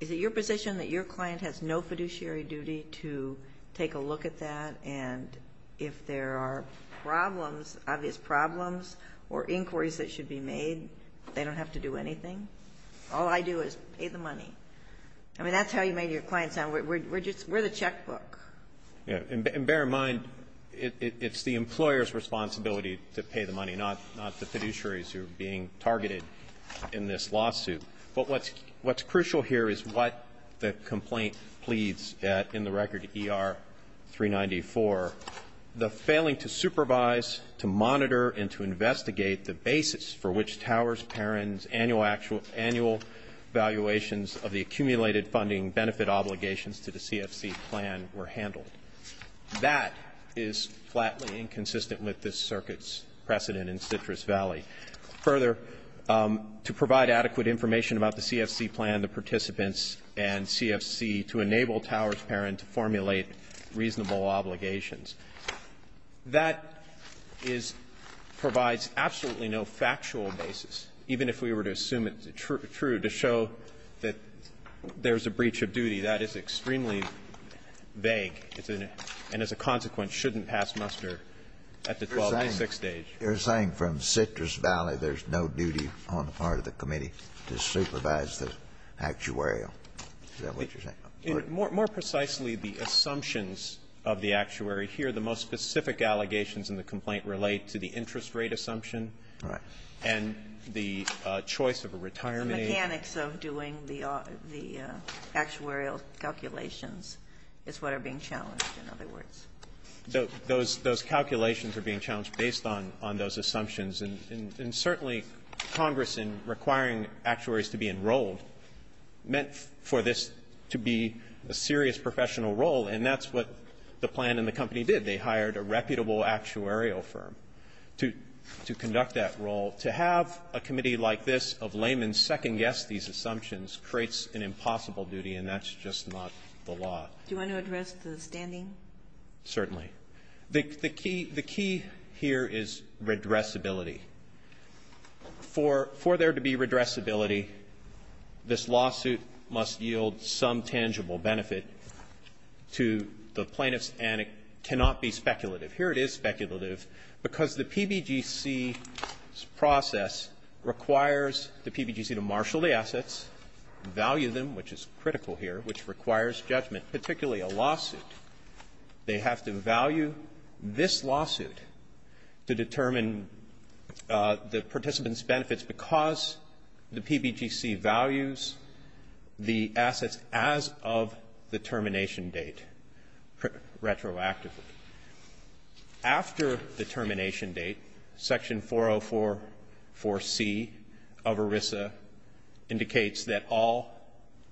is it your position that your client has no fiduciary duty to take a look at that? And if there are problems, obvious problems, or inquiries that should be made, they don't have to do anything? All I do is pay the money. I mean, that's how you made your client sound. We're the checkbook. And bear in mind, it's the employer's responsibility to pay the money, not the fiduciary's who are being targeted in this lawsuit. But what's crucial here is what the complaint pleads in the record ER-394, the failing to supervise, to monitor, and to investigate the basis for which Towers-Perrin's annual valuations of the accumulated funding benefit obligations to the CSB plan were handled. That is flatly inconsistent with this circuit's precedent in Citrus Valley. Further, to provide adequate information about the CFC plan, the participants, and CFC to enable Towers-Perrin to formulate reasonable obligations. That provides absolutely no factual basis. Even if we were to assume it's true to show that there's a breach of duty, that is extremely vague and, as a consequence, shouldn't pass muster at the 12 to 6 stage. They're saying from Citrus Valley there's no duty on the part of the committee to supervise the actuarial. Is that what you're saying? More precisely, the assumptions of the actuary here, the most specific allegations in the complaint relate to the interest rate assumption and the choice of a retirement agent. Mechanics of doing the actuarial calculations is what are being challenged, in other words. Those calculations are being challenged based on those assumptions, and certainly Congress, in requiring actuaries to be enrolled, meant for this to be a serious professional role, and that's what the plan and the company did. They hired a reputable actuarial firm to conduct that role. To have a committee like this of laymen second-guess these assumptions creates an impossible duty, and that's just not the law. Do you want to address the standing? Certainly. The key here is redressability. For there to be redressability, this lawsuit must yield some tangible benefit to the plaintiffs, and it cannot be speculative. Here it is speculative because the PBGC's process requires the PBGC to marshal the assets, value them, which is critical here, which requires judgment, particularly a lawsuit. They have to value this lawsuit to determine the participants' benefits because the PBGC values the assets as of the termination date, retroactively. After the termination date, Section 4044C of ERISA indicates that all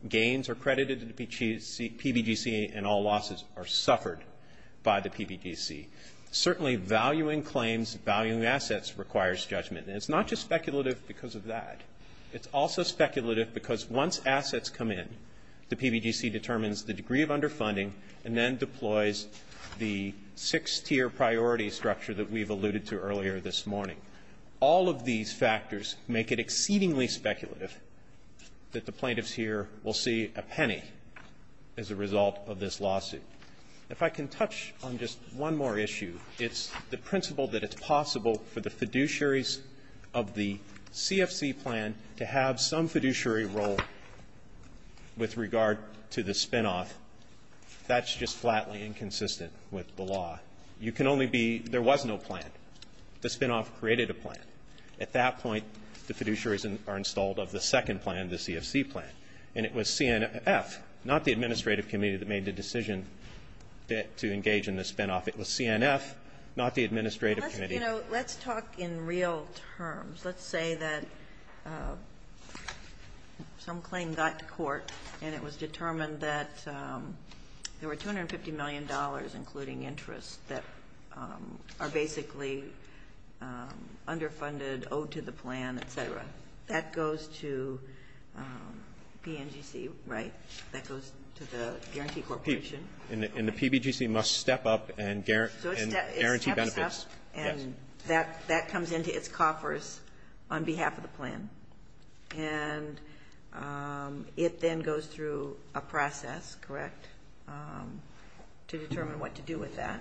gains are credited to the PBGC and all losses are suffered by the PBGC. Certainly, valuing claims, valuing assets requires judgment, and it's not just speculative because of that. It's also speculative because once assets come in, the PBGC determines the degree of underfunding and then deploys the six-tier priority structure that we've alluded to earlier this morning. All of these factors make it exceedingly speculative that the plaintiffs here will see a penny as a result of this lawsuit. If I can touch on just one more issue, it's the principle that it's possible for the fiduciaries of the CFC plan to have some fiduciary role with regard to the spinoff. That's just flatly inconsistent with the law. There was no plan. The spinoff created a plan. At that point, the fiduciaries are installed on the second plan, the CFC plan, and it was CNF, not the administrative committee that made the decision to engage in the spinoff. It was CNF, not the administrative committee. Let's talk in real terms. Let's say that some claim got to court and it was determined that there were $250 million, including interest, that are basically underfunded, owed to the plan, et cetera. That goes to PNGC, right? That goes to the Guarantee Corporation. And the PBGC must step up and guarantee benefits. Yes. And that comes into its coffers on behalf of the plan. And it then goes through a process, correct, to determine what to do with that?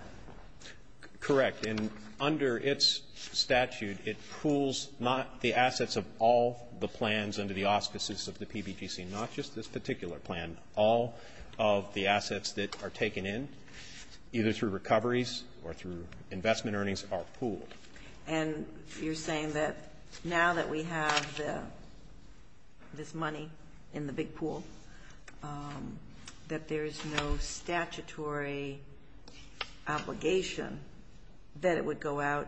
Correct. And under its statute, it pools not the assets of all the plans under the auspices of the PBGC, not just this particular plan, all of the assets that are taken in, either through recoveries or through investment earnings, are pooled. And you're saying that now that we have this money in the big pool, that there's no statutory obligation that it would go out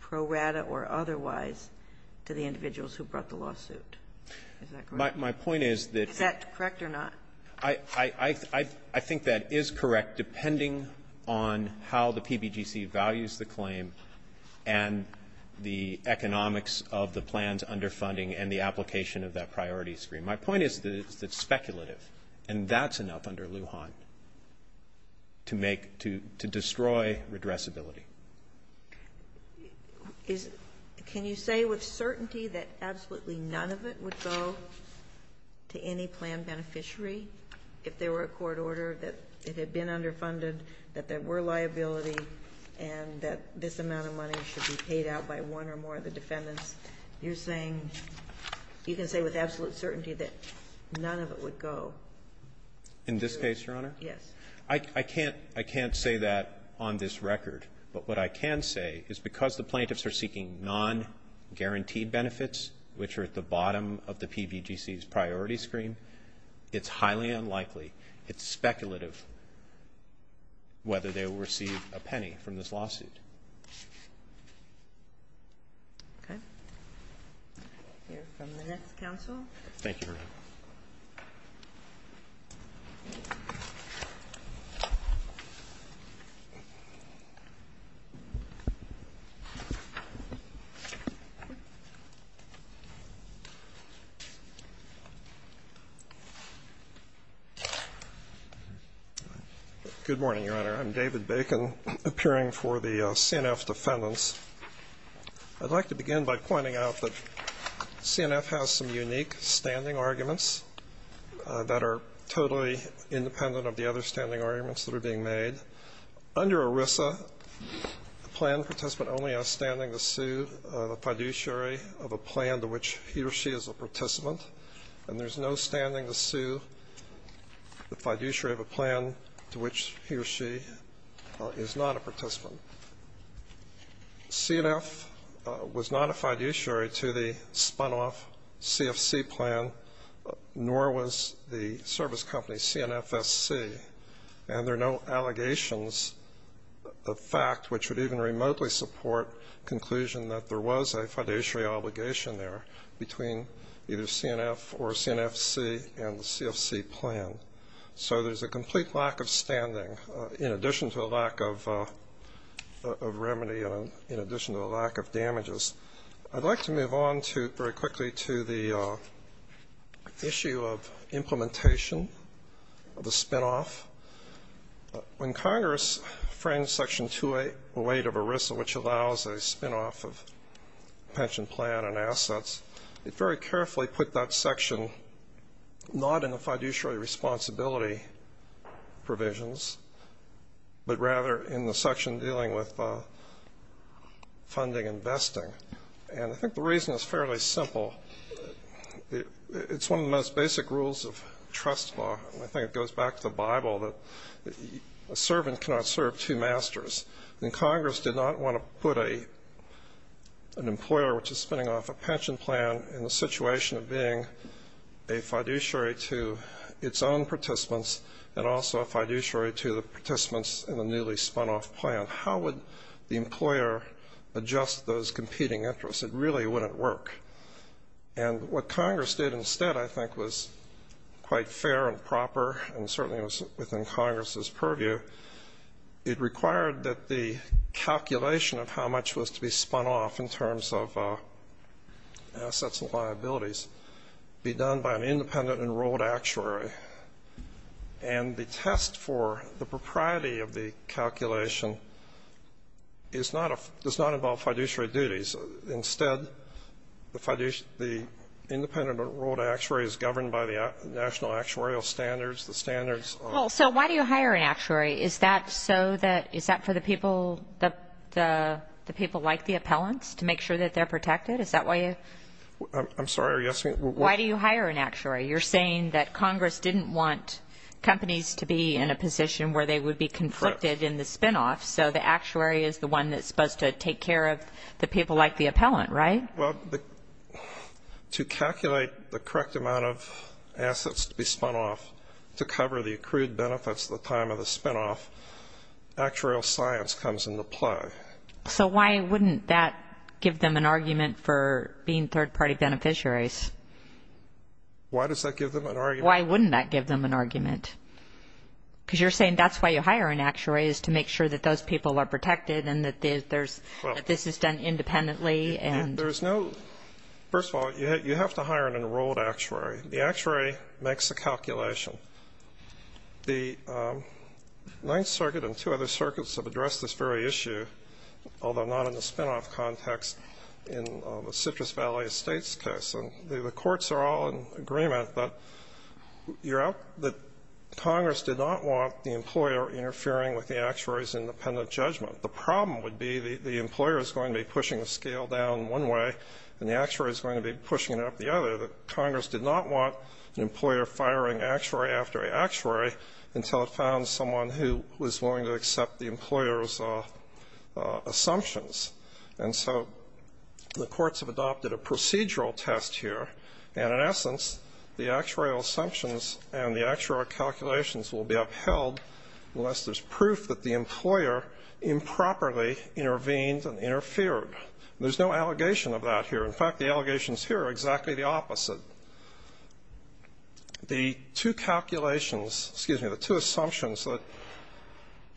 pro rata or otherwise to the individuals who brought the lawsuit. Is that correct? My point is that – Is that correct or not? I think that is correct, depending on how the PBGC values the claim and the economics of the plans underfunding and the application of that priority screen. My point is that it's speculative, and that's enough under Lujan to destroy redressability. Can you say with certainty that absolutely none of it would go to any plan beneficiary if there were a court order that it had been underfunded, that there were liabilities, and that this amount of money should be paid out by one or more of the defendants? You're saying – you can say with absolute certainty that none of it would go? In this case, Your Honor? Yes. I can't say that on this record. But what I can say is because the plaintiffs are seeking non-guaranteed benefits, which are at the bottom of the PBGC's priority screen, it's highly unlikely, it's speculative whether they will receive a penny from this lawsuit. Okay. Thank you, Your Honor. Thank you. Good morning, Your Honor. I'm David Bacon, appearing for the CNF defendants. I'd like to begin by pointing out that CNF has some unique standing arguments that are totally independent of the other standing arguments that are being made. Under ERISA, the plan participant only has standing to sue the fiduciary of a plan to which he or she is a participant, and there's no standing to sue the fiduciary of a plan to which he or she is not a participant. CNF was not a fiduciary to the spun-off CFC plan, nor was the service company CNFSC, and there are no allegations of fact, which would even remotely support the conclusion that there was a fiduciary obligation there between either CNF or CNFSC and the CFC plan. So there's a complete lack of standing in addition to a lack of remedy and in addition to a lack of damages. I'd like to move on very quickly to the issue of implementation of a spin-off. When Congress framed Section 208 of ERISA, which allows a spin-off of pension plan and assets, it very carefully put that section not in the fiduciary responsibility provisions but rather in the section dealing with funding and vesting, and I think the reason is fairly simple. It's one of the most basic rules of trust law, and I think it goes back to the Bible that a servant cannot serve two masters. When Congress did not want to put an employer which is spinning off a pension plan in the situation of being a fiduciary to its own participants and also a fiduciary to the participants in a newly spun-off plan, how would the employer adjust those competing interests? It really wouldn't work. And what Congress did instead I think was quite fair and proper, and certainly was within Congress's purview. It required that the calculation of how much was to be spun off in terms of assets and liabilities be done by an independent enrolled actuary, and the test for the propriety of the calculation does not involve fiduciary duties. Instead, the independent enrolled actuary is governed by the national actuarial standards, the standards of the- Actuary, is that for the people like the appellants to make sure that they're protected? I'm sorry, are you asking- Why do you hire an actuary? You're saying that Congress didn't want companies to be in a position where they would be conflicted in the spin-off, so the actuary is the one that's supposed to take care of the people like the appellant, right? To calculate the correct amount of assets to be spun off to cover the accrued benefits at the time of the spin-off, actuarial science comes into play. So why wouldn't that give them an argument for being third-party beneficiaries? Why does that give them an argument? Why wouldn't that give them an argument? Because you're saying that's why you hire an actuary is to make sure that those people are protected and that this is done independently and- There's no-first of all, you have to hire an enrolled actuary. The actuary makes the calculation. The Ninth Circuit and two other circuits have addressed this very issue, although not in the spin-off context, in the Citrus Valley Estates case, and the courts are all in agreement that Congress did not want the employer interfering with the actuary's independent judgment. The problem would be the employer is going to be pushing the scale down one way and the actuary is going to be pushing it up the other, but Congress did not want an employer firing actuary after actuary until it found someone who was willing to accept the employer's assumptions. And so the courts have adopted a procedural test here, and in essence the actuarial assumptions and the actuarial calculations will be upheld unless there's proof that the employer improperly intervened and interfered. There's no allegation of that here. In fact, the allegations here are exactly the opposite. The two assumptions that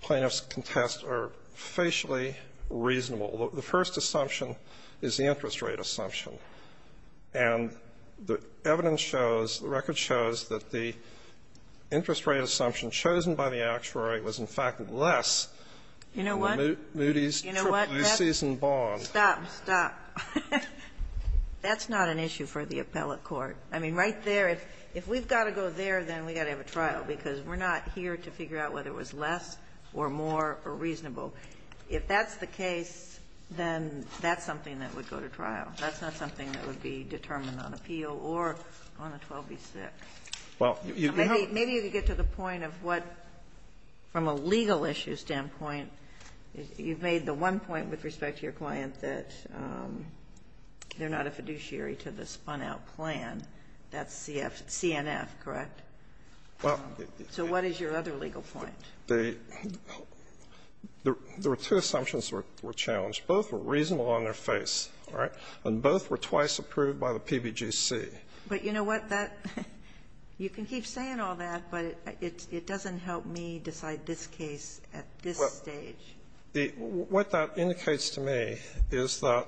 plaintiffs contest are facially reasonable. The first assumption is the interest rate assumption, and the evidence shows, the record shows, that the interest rate assumption chosen by the actuary was, in fact, less than the Moody's trip, Moosey's and Bond. Stop, stop. That's not an issue for the appellate court. I mean, right there, if we've got to go there, then we've got to have a trial, because we're not here to figure out whether it was less or more or reasonable. If that's the case, then that's something that would go to trial. That's not something that would be determined on appeal or on the 12B6. Maybe to get to the point of what, from a legal issue standpoint, you've made the one point with respect to your client that they're not a fiduciary to the spun-out plan. That's CNF, correct? So what is your other legal point? The two assumptions were challenged. Both were reasonable on their face, all right? And both were twice approved by the PBGC. But you know what? You can keep saying all that, but it doesn't help me decide this case at this stage. What that indicates to me is that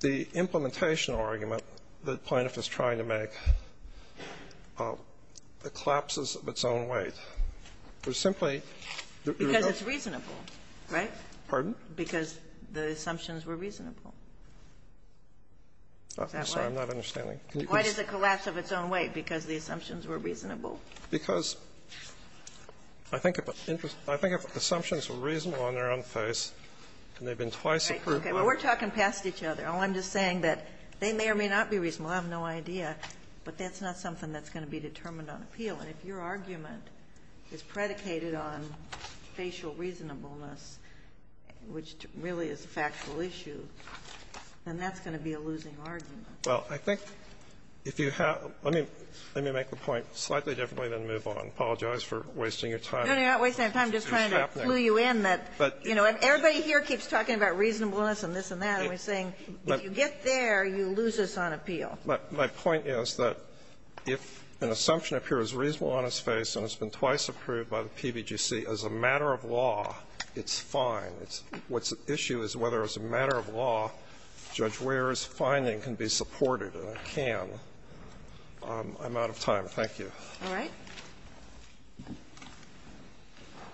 the implementational argument that Plaintiff is trying to make collapses of its own weight. Because it's reasonable, right? Pardon? Because the assumptions were reasonable. I'm sorry, I'm not understanding. Why does it collapse of its own weight? Because the assumptions were reasonable. Because I think if assumptions were reasonable on their own face, and they've been twice approved. Okay, well, we're talking past each other. I'm just saying that they may or may not be reasonable. I have no idea. But that's not something that's going to be determined on appeal. If your argument is predicated on facial reasonableness, which really is a factual issue, then that's going to be a losing argument. Well, I think if you have – let me make the point slightly differently and then move on. I apologize for wasting your time. No, you're not wasting your time. I'm just trying to clue you in that, you know, everybody here keeps talking about reasonableness and this and that, and we're saying if you get there, you lose us on appeal. My point is that if an assumption appears reasonable on his face and has been twice approved by the PBGC as a matter of law, it's fine. What's at issue is whether as a matter of law Judge Weare's finding can be supported, and it can. I'm out of time. Thank you. All right.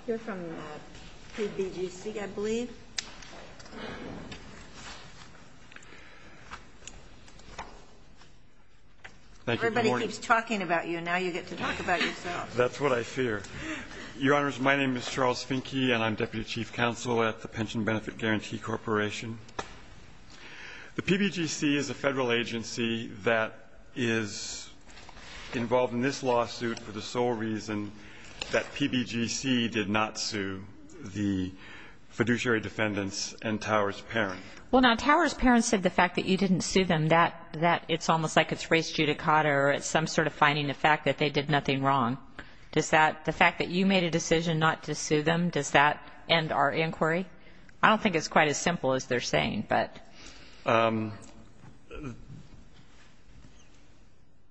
You're from the PBGC, I believe. Everybody keeps talking about you, and now you get to talk about yourself. That's what I fear. Your Honors, my name is Charles Finke, and I'm Deputy Chief Counsel at the Pension Benefit Guarantee Corporation. The PBGC is a federal agency that is involved in this lawsuit for the sole reason that PBGC did not sue the fiduciary defendants and Towers' parents. Well, now, Towers' parents think the fact that you didn't sue them, that it's almost like it's race judicata or some sort of finding the fact that they did nothing wrong. Does that, the fact that you made a decision not to sue them, does that end our inquiry? I don't think it's quite as simple as they're saying, but.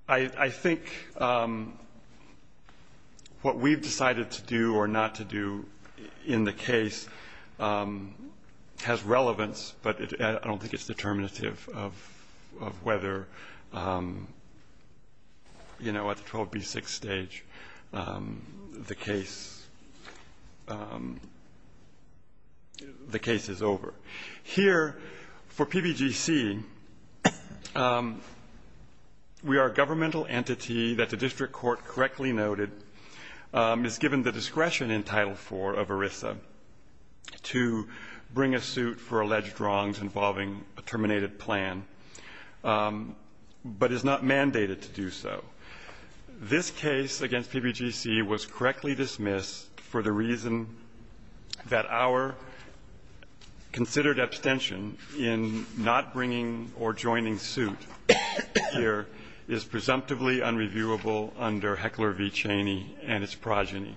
I think what we've decided to do or not to do in the case has relevance, but I don't think it's determinative of whether, you know, at the 12B6 stage, the case is over. Here, for PBGC, we are a governmental entity that the district court correctly noted is given the discretion in Title IV of ERISA to bring a suit for alleged wrongs involving a terminated plan, but is not mandated to do so. This case against PBGC was correctly dismissed for the reason that our considered abstention in not bringing or joining suit here is presumptively unreviewable under Heckler v. Cheney and its progeny.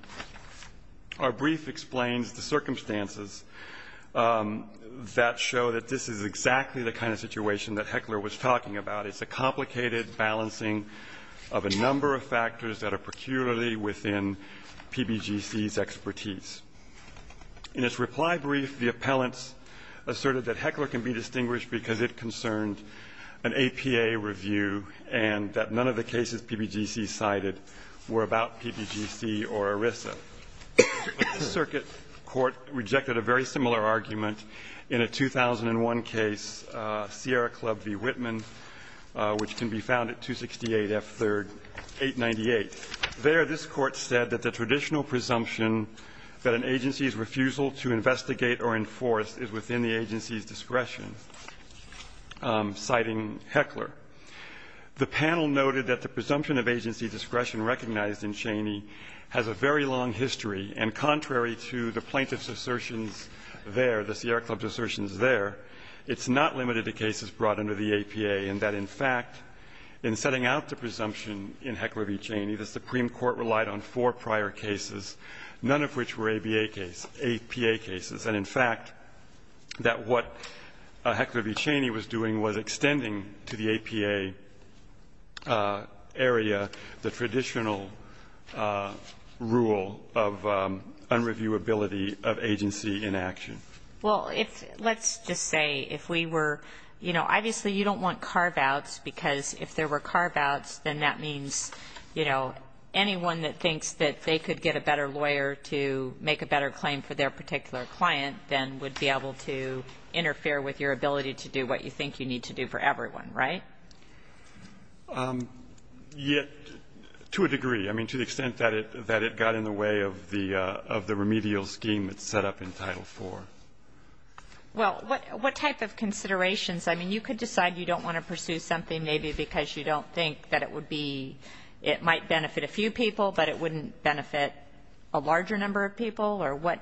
Our brief explains the circumstances that show that this is exactly the kind of situation that Heckler was talking about. It's a complicated balancing of a number of factors that are peculiarly within PBGC's expertise. In its reply brief, the appellants asserted that Heckler can be distinguished because it concerns an APA review and that none of the cases PBGC cited were about PBGC or ERISA. The circuit court rejected a very similar argument in a 2001 case, Sierra Club v. Whitman, which can be found at 268 F3rd 898. There, this court said that the traditional presumption that an agency's refusal to investigate or enforce is within the agency's discretion, citing Heckler. The panel noted that the presumption of agency discretion recognized in Cheney has a very long history, and contrary to the plaintiff's assertions there, the Sierra Club's assertions there, it's not limited to cases brought under the APA and that, in fact, in setting out the presumption in Heckler v. Cheney, the Supreme Court relied on four prior cases, none of which were APA cases, and in fact that what Heckler v. Cheney was doing was extending to the APA area the traditional rule of unreviewability of agency inaction. Well, let's just say if we were, you know, obviously you don't want carve-outs, because if there were carve-outs, then that means, you know, anyone that thinks that they could get a better lawyer to make a better claim for their particular client then would be able to interfere with your ability to do what you think you need to do for everyone, right? Yes, to a degree. I mean, to the extent that it got in the way of the remedial scheme that's set up in Title IV. Well, what type of considerations? I mean, you could decide you don't want to pursue something maybe because you don't think that it might benefit a few people, but it wouldn't benefit a larger number of people, or what?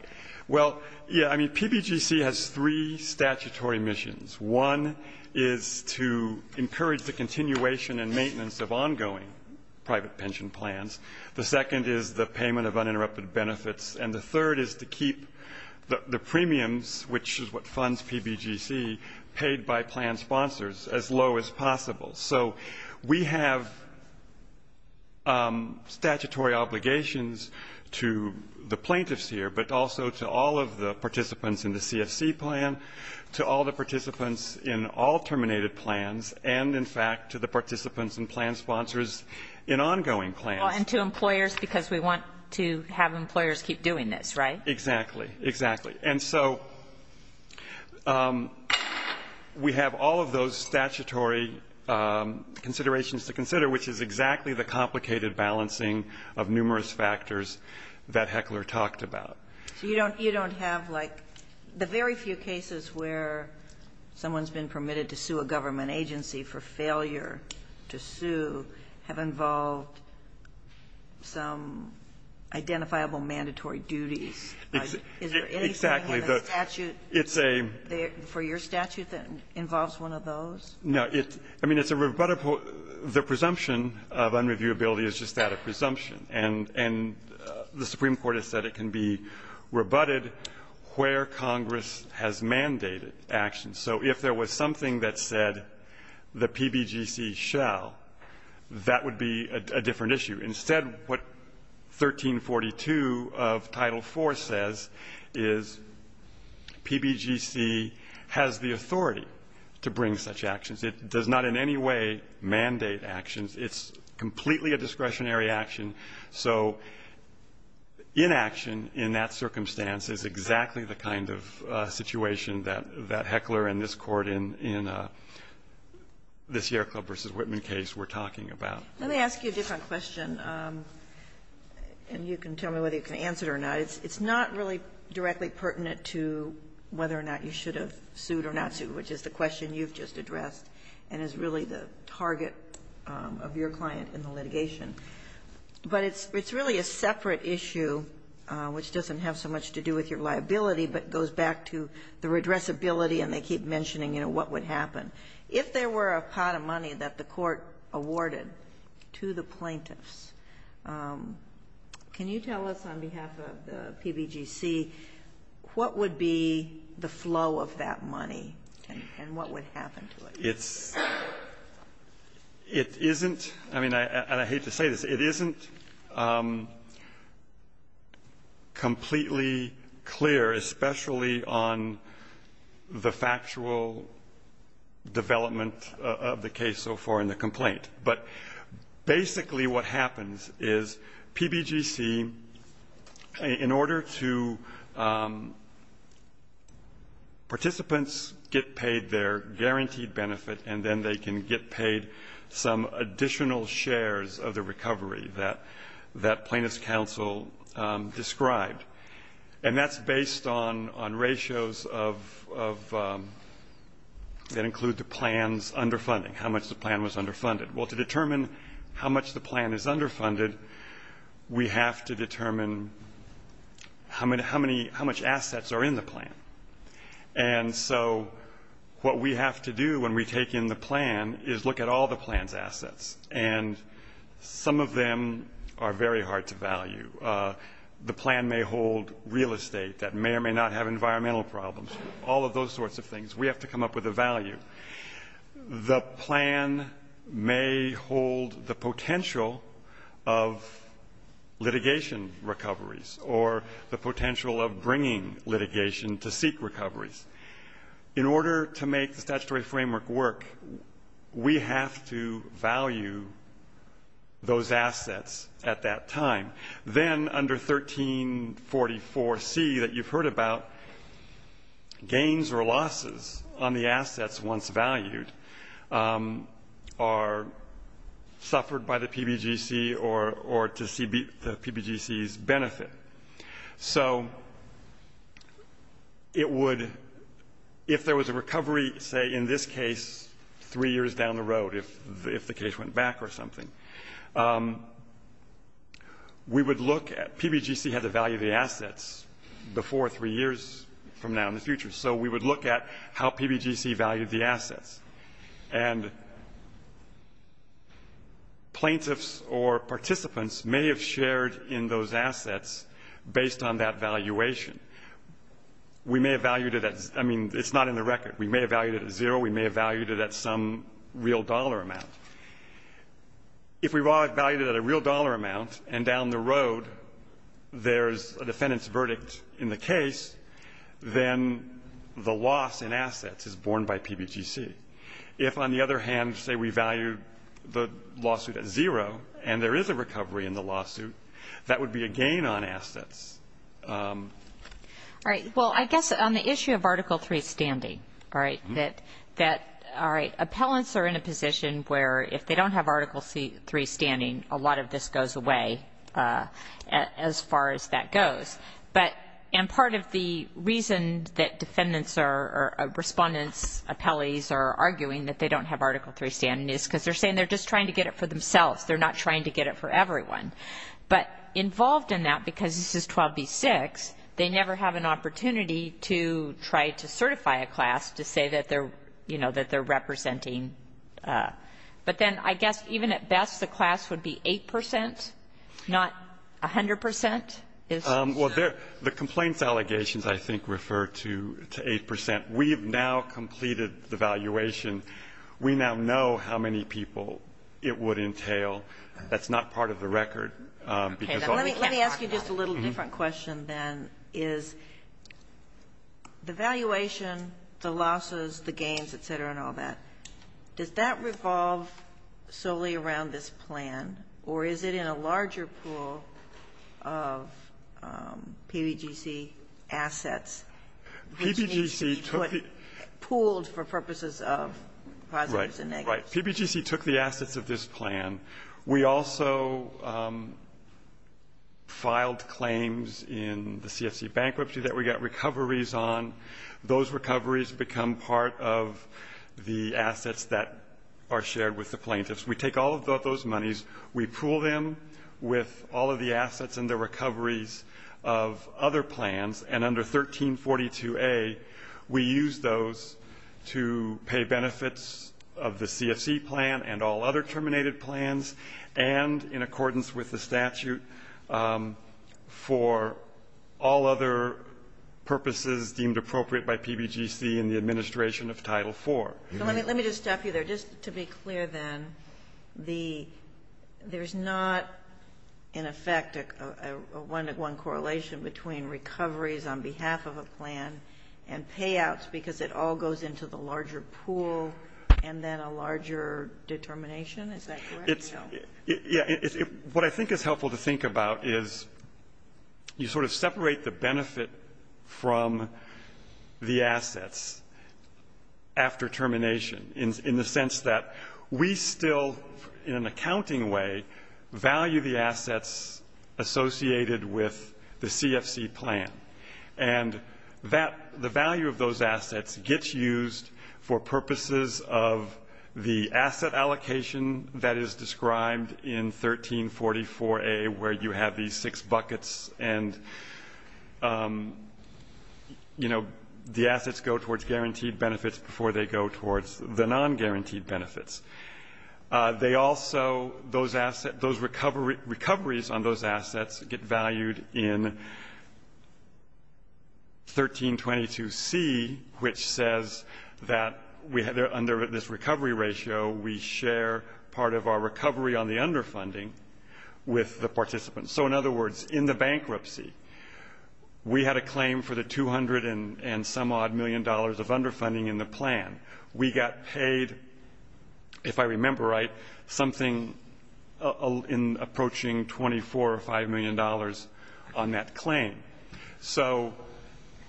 Well, yeah, I mean, PBGC has three statutory missions. One is to encourage the continuation and maintenance of ongoing private pension plans. The second is the payment of uninterrupted benefits, and the third is to keep the premiums, which is what funds PBGC, paid by plan sponsors as low as possible. So we have statutory obligations to the plaintiffs here, but also to all of the participants in the CFC plan, to all the participants in all terminated plans, and, in fact, to the participants and plan sponsors in ongoing plans. And to employers because we want to have employers keep doing this, right? Exactly, exactly. And so we have all of those statutory considerations to consider, which is exactly the complicated balancing of numerous factors that Heckler talked about. You don't have, like, the very few cases where someone's been permitted to sue a government agency for failure to sue have involved some identifiable mandatory duty. Exactly. Is there any statute for your statute that involves one of those? No. I mean, it's a rebuttable. The presumption of unreviewability is just that, a presumption, and the Supreme Court has said it can be rebutted where Congress has mandated action. So if there was something that said the PBGC shall, that would be a different issue. Instead, what 1342 of Title IV says is PBGC has the authority to bring such actions. It does not in any way mandate actions. It's completely a discretionary action. So inaction in that circumstance is exactly the kind of situation that Heckler and this court in this Yerko versus Whitman case were talking about. Let me ask you a different question, and you can tell me whether you can answer it or not. It's not really directly pertinent to whether or not you should have sued or not sued, which is the question you've just addressed and is really the target of your client in the litigation. But it's really a separate issue which doesn't have so much to do with your liability but goes back to the redressability, and they keep mentioning what would happen. If there were a pot of money that the court awarded to the plaintiffs, can you tell us on behalf of the PBGC what would be the flow of that money and what would happen to it? It isn't, and I hate to say this, it isn't completely clear, especially on the factual development of the case so far in the complaint. But basically what happens is PBGC, in order to participants get paid their guaranteed benefit and then they can get paid some additional shares of the recovery that plaintiffs' counsel described, and that's based on ratios that include the plan's underfunding, how much the plan was underfunded. Well, to determine how much the plan is underfunded, we have to determine how much assets are in the plan. And so what we have to do when we take in the plan is look at all the plan's assets, and some of them are very hard to value. The plan may hold real estate that may or may not have environmental problems, all of those sorts of things. We have to come up with a value. The plan may hold the potential of litigation recoveries or the potential of bringing litigation to seek recoveries. In order to make the statutory framework work, we have to value those assets at that time. Then under 1344C that you've heard about, gains or losses on the assets once valued are suffered by the PBGC or to the PBGC's benefit. So it would, if there was a recovery, say in this case, three years down the road, if the case went back or something, we would look at, PBGC had to value the assets before three years from now in the future, so we would look at how PBGC valued the assets. And plaintiffs or participants may have shared in those assets based on that valuation. We may have valued it at, I mean, it's not in the record. We may have valued it at zero. We may have valued it at some real dollar amount. If we value it at a real dollar amount and down the road there's a defendant's verdict in the case, then the loss in assets is borne by PBGC. If, on the other hand, say we value the lawsuit at zero and there is a recovery in the lawsuit, that would be a gain on assets. All right. Well, I guess on the issue of Article III standing, right, that, all right, appellants are in a position where if they don't have Article III standing, a lot of this goes away as far as that goes. But, and part of the reason that defendants or respondents, appellees are arguing that they don't have Article III standing is because they're saying they're just trying to get it for themselves. They're not trying to get it for everyone. But involved in that, because this is 12B6, they never have an opportunity to try to certify a class to say that they're, you know, that they're representing. But then I guess even at best the class would be 8%, not 100%. Well, the complaints allegations, I think, refer to 8%. We have now completed the valuation. We now know how many people it would entail. That's not part of the record. Let me ask you just a little different question then, is the valuation, the losses, the gains, et cetera, and all that, does that revolve solely around this plan or is it in a larger pool of PBGC assets? PBGC took the... Pooled for purposes of... Right, right. PBGC took the assets of this plan. We also filed claims in the CSE bankruptcy that we got recoveries on. Those recoveries become part of the assets that are shared with the plaintiffs. We take all of those monies, we pool them with all of the assets and the recoveries of other plans, and under 1342A we use those to pay benefits of the CSE plan and all other terminated plans, and in accordance with the statute for all other purposes deemed appropriate by PBGC and the administration of Title IV. Let me just stop you there. Just to be clear then, there's not, in effect, a one-to-one correlation between recoveries on behalf of a plan and payouts because it all goes into the larger pool and then a larger determination? Is that correct? Yeah. What I think is helpful to think about is you sort of separate the benefit from the assets after termination in the sense that we still, in an accounting way, value the assets associated with the CSE plan, and the value of those assets gets used for purposes of the asset allocation that is described in 1344A where you have these six buckets and, you know, the assets go towards guaranteed benefits before they go towards the non-guaranteed benefits. They also, those assets, those recoveries on those assets get valued in 1322C, which says that under this recovery ratio we share part of our recovery on the underfunding with the participants. So, in other words, in the bankruptcy, we had a claim for the 200 and some odd million dollars of underfunding in the plan. We got paid, if I remember right, something approaching $24 or $5 million on that claim. So,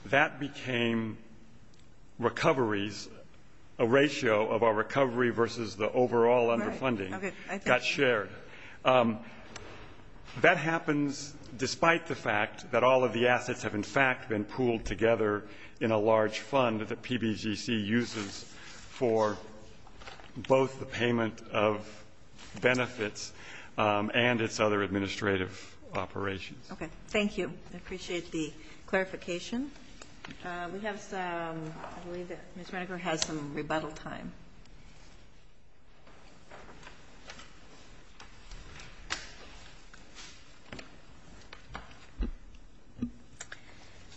that became recoveries, a ratio of our recovery versus the overall underfunding got shared. That happens despite the fact that all of the assets have, in fact, been pooled together in a large fund that the PBGC uses for both the payment of benefits and its other administrative operations. Okay, thank you. I appreciate the clarification. We have some, I believe Ms. Riker had some rebuttal time.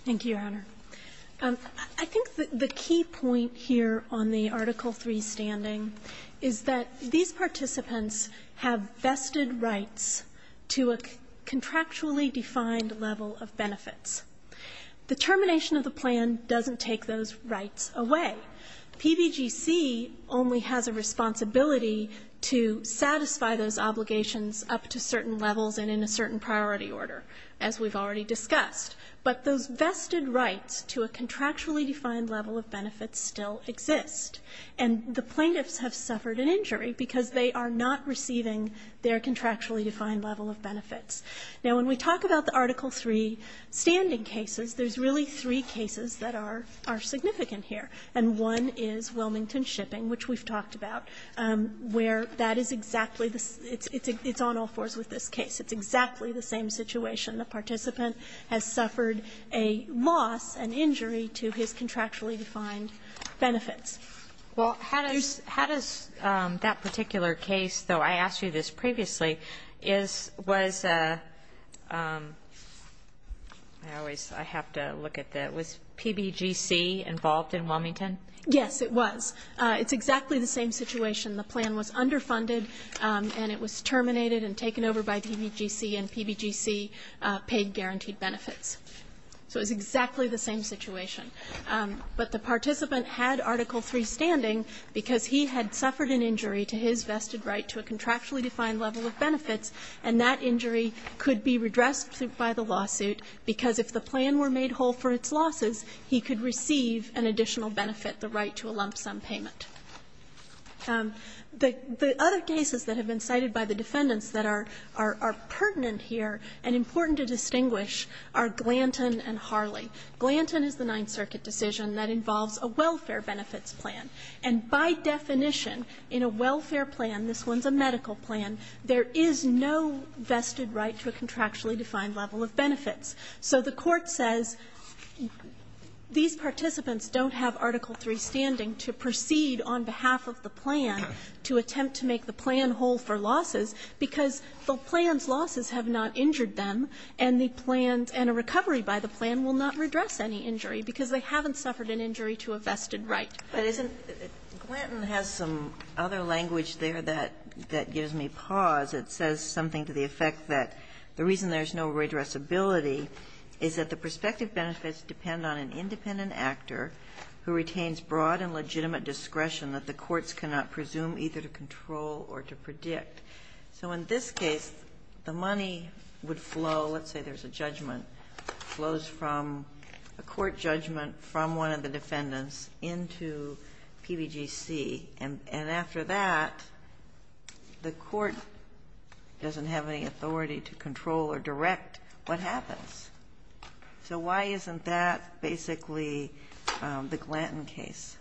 Thank you, Your Honor. I think the key point here on the Article III standing is that these participants have vested rights to a contractually defined level of benefits. The termination of the plan doesn't take those rights away. PBGC only has a responsibility to satisfy those obligations up to certain levels and in a certain priority order, as we've already discussed. But the vested rights to a contractually defined level of benefits still exist. And the plaintiffs have suffered an injury because they are not receiving their contractually defined level of benefits. Now, when we talk about the Article III standing cases, there's really three cases that are significant here. And one is Wilmington Shipping, which we've talked about, where that is exactly, it's on all fours with this case. It's exactly the same situation. The participant has suffered a loss, an injury to his contractually defined benefits. How does that particular case, though I asked you this previously, was PBGC involved in Wilmington? Yes, it was. It's exactly the same situation. The plan was underfunded, and it was terminated and taken over by PBGC, and PBGC paid guaranteed benefits. So it's exactly the same situation. But the participant had Article III standing because he had suffered an injury to his vested right to a contractually defined level of benefits, and that injury could be redressed by the lawsuit because if the plan were made whole for its losses, he could receive an additional benefit, the right to a lump sum payment. The other cases that have been cited by the defendants that are pertinent here and important to distinguish are Glanton and Harley. Glanton is a Ninth Circuit decision that involves a welfare benefits plan. And by definition, in a welfare plan, this one's a medical plan, there is no vested right to a contractually defined level of benefits. So the court says these participants don't have Article III standing to proceed on behalf of the plan to attempt to make the plan whole for losses because the plan's losses have not injured them, and a recovery by the plan will not redress any injury because they haven't suffered an injury to a vested right. Glanton has some other language there that gives me pause. It says something to the effect that the reason there's no redressability is that the prospective benefits depend on an independent actor who retains broad and legitimate discretion that the courts cannot presume either to control or to predict. So in this case, the money would flow, let's say there's a judgment, flows from a court judgment from one of the defendants into PBGC. And after that, the court doesn't have any authority to control or direct what happens. So why isn't that basically the Glanton case?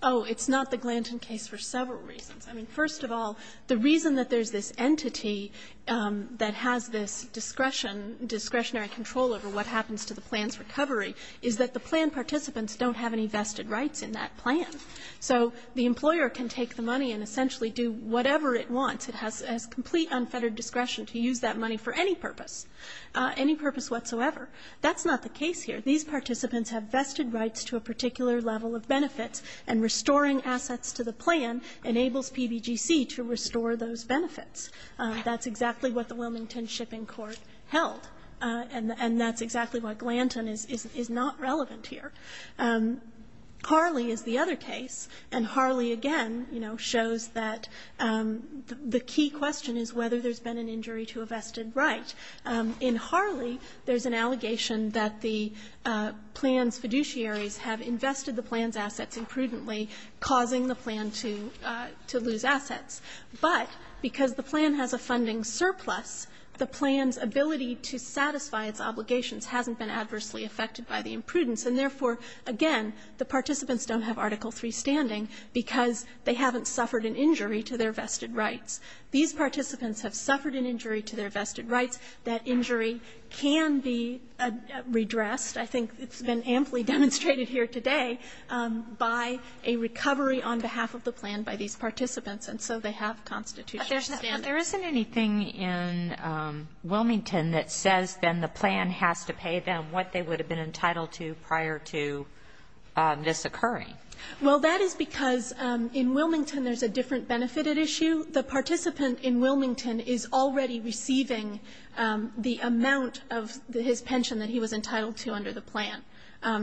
Oh, it's not the Glanton case for several reasons. First of all, the reason that there's this entity that has this discretionary control over what happens to the plan's recovery is that the plan participants don't have any vested rights in that plan. So the employer can take the money and essentially do whatever it wants. It has complete unfettered discretion to use that money for any purpose. Any purpose whatsoever. That's not the case here. These participants have vested rights to a particular level of benefits, and restoring assets to the plan enables PBGC to restore those benefits. That's exactly what the Wilmington Shipping Court held, and that's exactly why Glanton is not relevant here. Harley is the other case, and Harley again shows that the key question is whether there's been an injury to a vested right. In Harley, there's an allegation that the plan's fiduciaries have invested the plan's assets imprudently, causing the plan to lose assets. But because the plan has a funding surplus, the plan's ability to satisfy its obligations hasn't been adversely affected by the imprudence, and therefore, again, the participants don't have article freestanding because they haven't suffered an injury to their vested rights. These participants have suffered an injury to their vested rights. That injury can be redressed. I think it's been amply demonstrated here today by a recovery on behalf of the plan by these participants, and so they have constitutional standing. There isn't anything in Wilmington that says then the plan has to pay them what they would have been entitled to prior to this occurring. Well, that is because in Wilmington, there's a different benefit at issue. The participant in Wilmington is already receiving the amount of his pension that he was entitled to under the plan.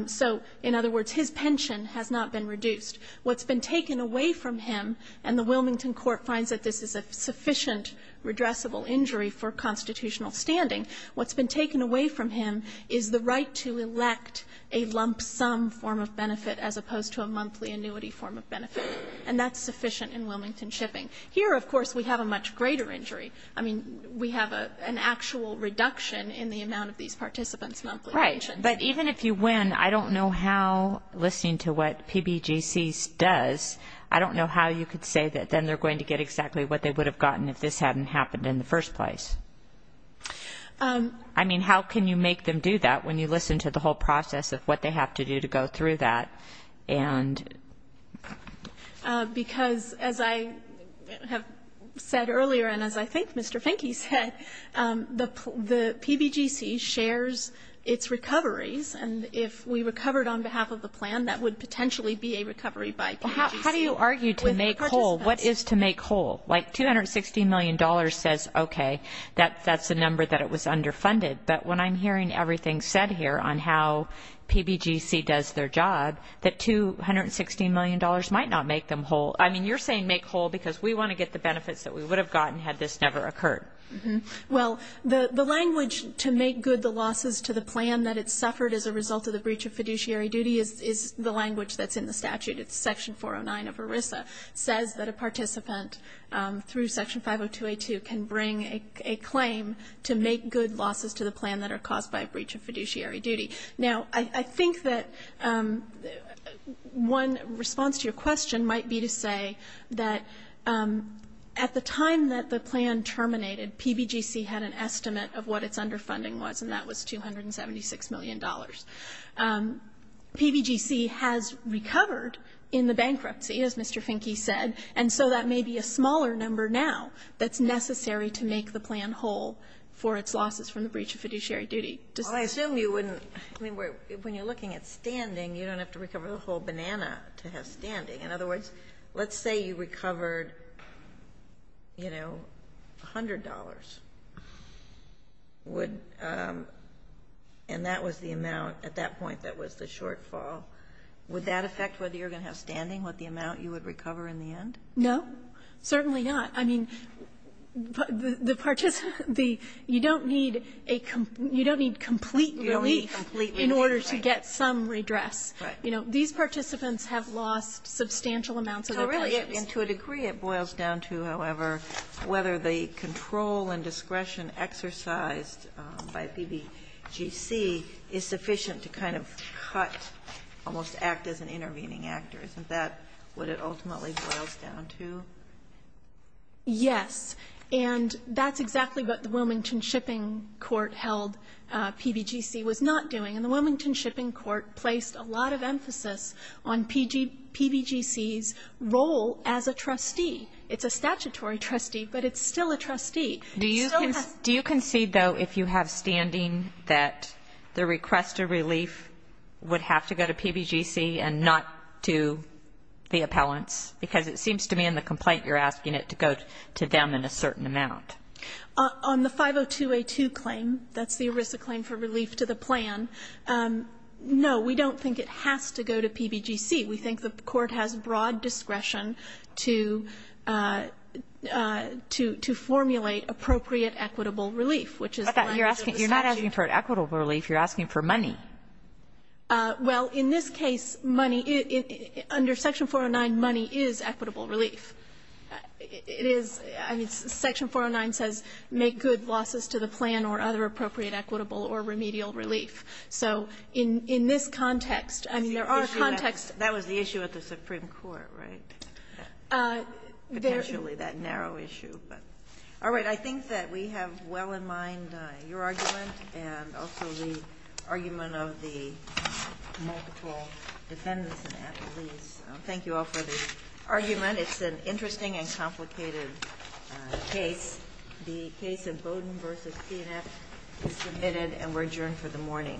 So in other words, his pension has not been reduced. What's been taken away from him, and the Wilmington court finds that this is a sufficient redressable injury for constitutional standing, what's been taken away from him is the right to elect a lump sum form of benefit as opposed to a monthly annuity form of benefit, and that's sufficient in Wilmington shipping. Here, of course, we have a much greater injury. I mean, we have an actual reduction in the amount of these participants' monthly pension. Right, but even if you win, I don't know how, listening to what PBGC does, I don't know how you could say that then they're going to get exactly what they would have gotten if this hadn't happened in the first place. I mean, how can you make them do that when you listen to the whole process of what they have to do to go through that? Because, as I have said earlier, and as I think Mr. Finke said, the PBGC shares its recoveries, and if we recovered on behalf of the plan, that would potentially be a recovery by... How do you argue to make whole? What is to make whole? Like $260 million says, okay, that's the number that it was underfunded, but when I'm hearing everything said here on how PBGC does their job, that $260 million might not make them whole. I mean, you're saying make whole because we want to get the benefits that we would have gotten had this never occurred. Well, the language to make good the losses to the plan that it suffered as a result of the breach of fiduciary duty is the language that's in the statute. It's Section 409 of ERISA. It says that a participant through Section 502A2 can bring a claim to make good losses to the plan that are caused by a breach of fiduciary duty. Now, I think that one response to your question might be to say that at the time that the plan terminated, PBGC had an estimate of what its underfunding was, and that was $276 million. PBGC has recovered in the bankruptcy, as Mr. Finke said, and so that may be a smaller number now that's necessary to make the plan whole for its losses from the breach of fiduciary duty. Well, I assume when you're looking at standing, you don't have to recover the whole banana to have standing. In other words, let's say you recovered, you know, $100, and that was the amount at that point that was the shortfall. Would that affect whether you're going to have standing with the amount you would recover in the end? No, certainly not. I mean, you don't need complete relief in order to get some redress. Right. You know, these participants have lost substantial amounts of their money. And to a degree it boils down to, however, whether the control and discretion exercised by PBGC is sufficient to kind of cut almost active and intervening actors. Is that what it ultimately boils down to? Yes, and that's exactly what the Wilmington Shipping Court held PBGC was not doing. And the Wilmington Shipping Court placed a lot of emphasis on PBGC's role as a trustee. It's a statutory trustee, but it's still a trustee. Do you concede, though, if you have standing that the request of relief would have to go to PBGC and not to the appellants? Because it seems to me in the complaint you're asking it to go to them in a certain amount. On the 502A2 claim, that's the ERISA claim for relief to the plan, no, we don't think it has to go to PBGC. We think the court has broad discretion to formulate appropriate equitable relief, which is fine. You're not asking for equitable relief. You're asking for money. Well, in this case, under Section 409, money is equitable relief. I mean, Section 409 says make good losses to the plan or other appropriate equitable or remedial relief. So in this context, I mean, there are contexts. That was the issue with the Supreme Court, right? Potentially that narrow issue. All right, I think that we have well in mind your argument and also the argument of the multiple defendants. Thank you all for the argument. It's an interesting and complicated case. The case of Bowdoin v. CNF is submitted and we're adjourned for the morning.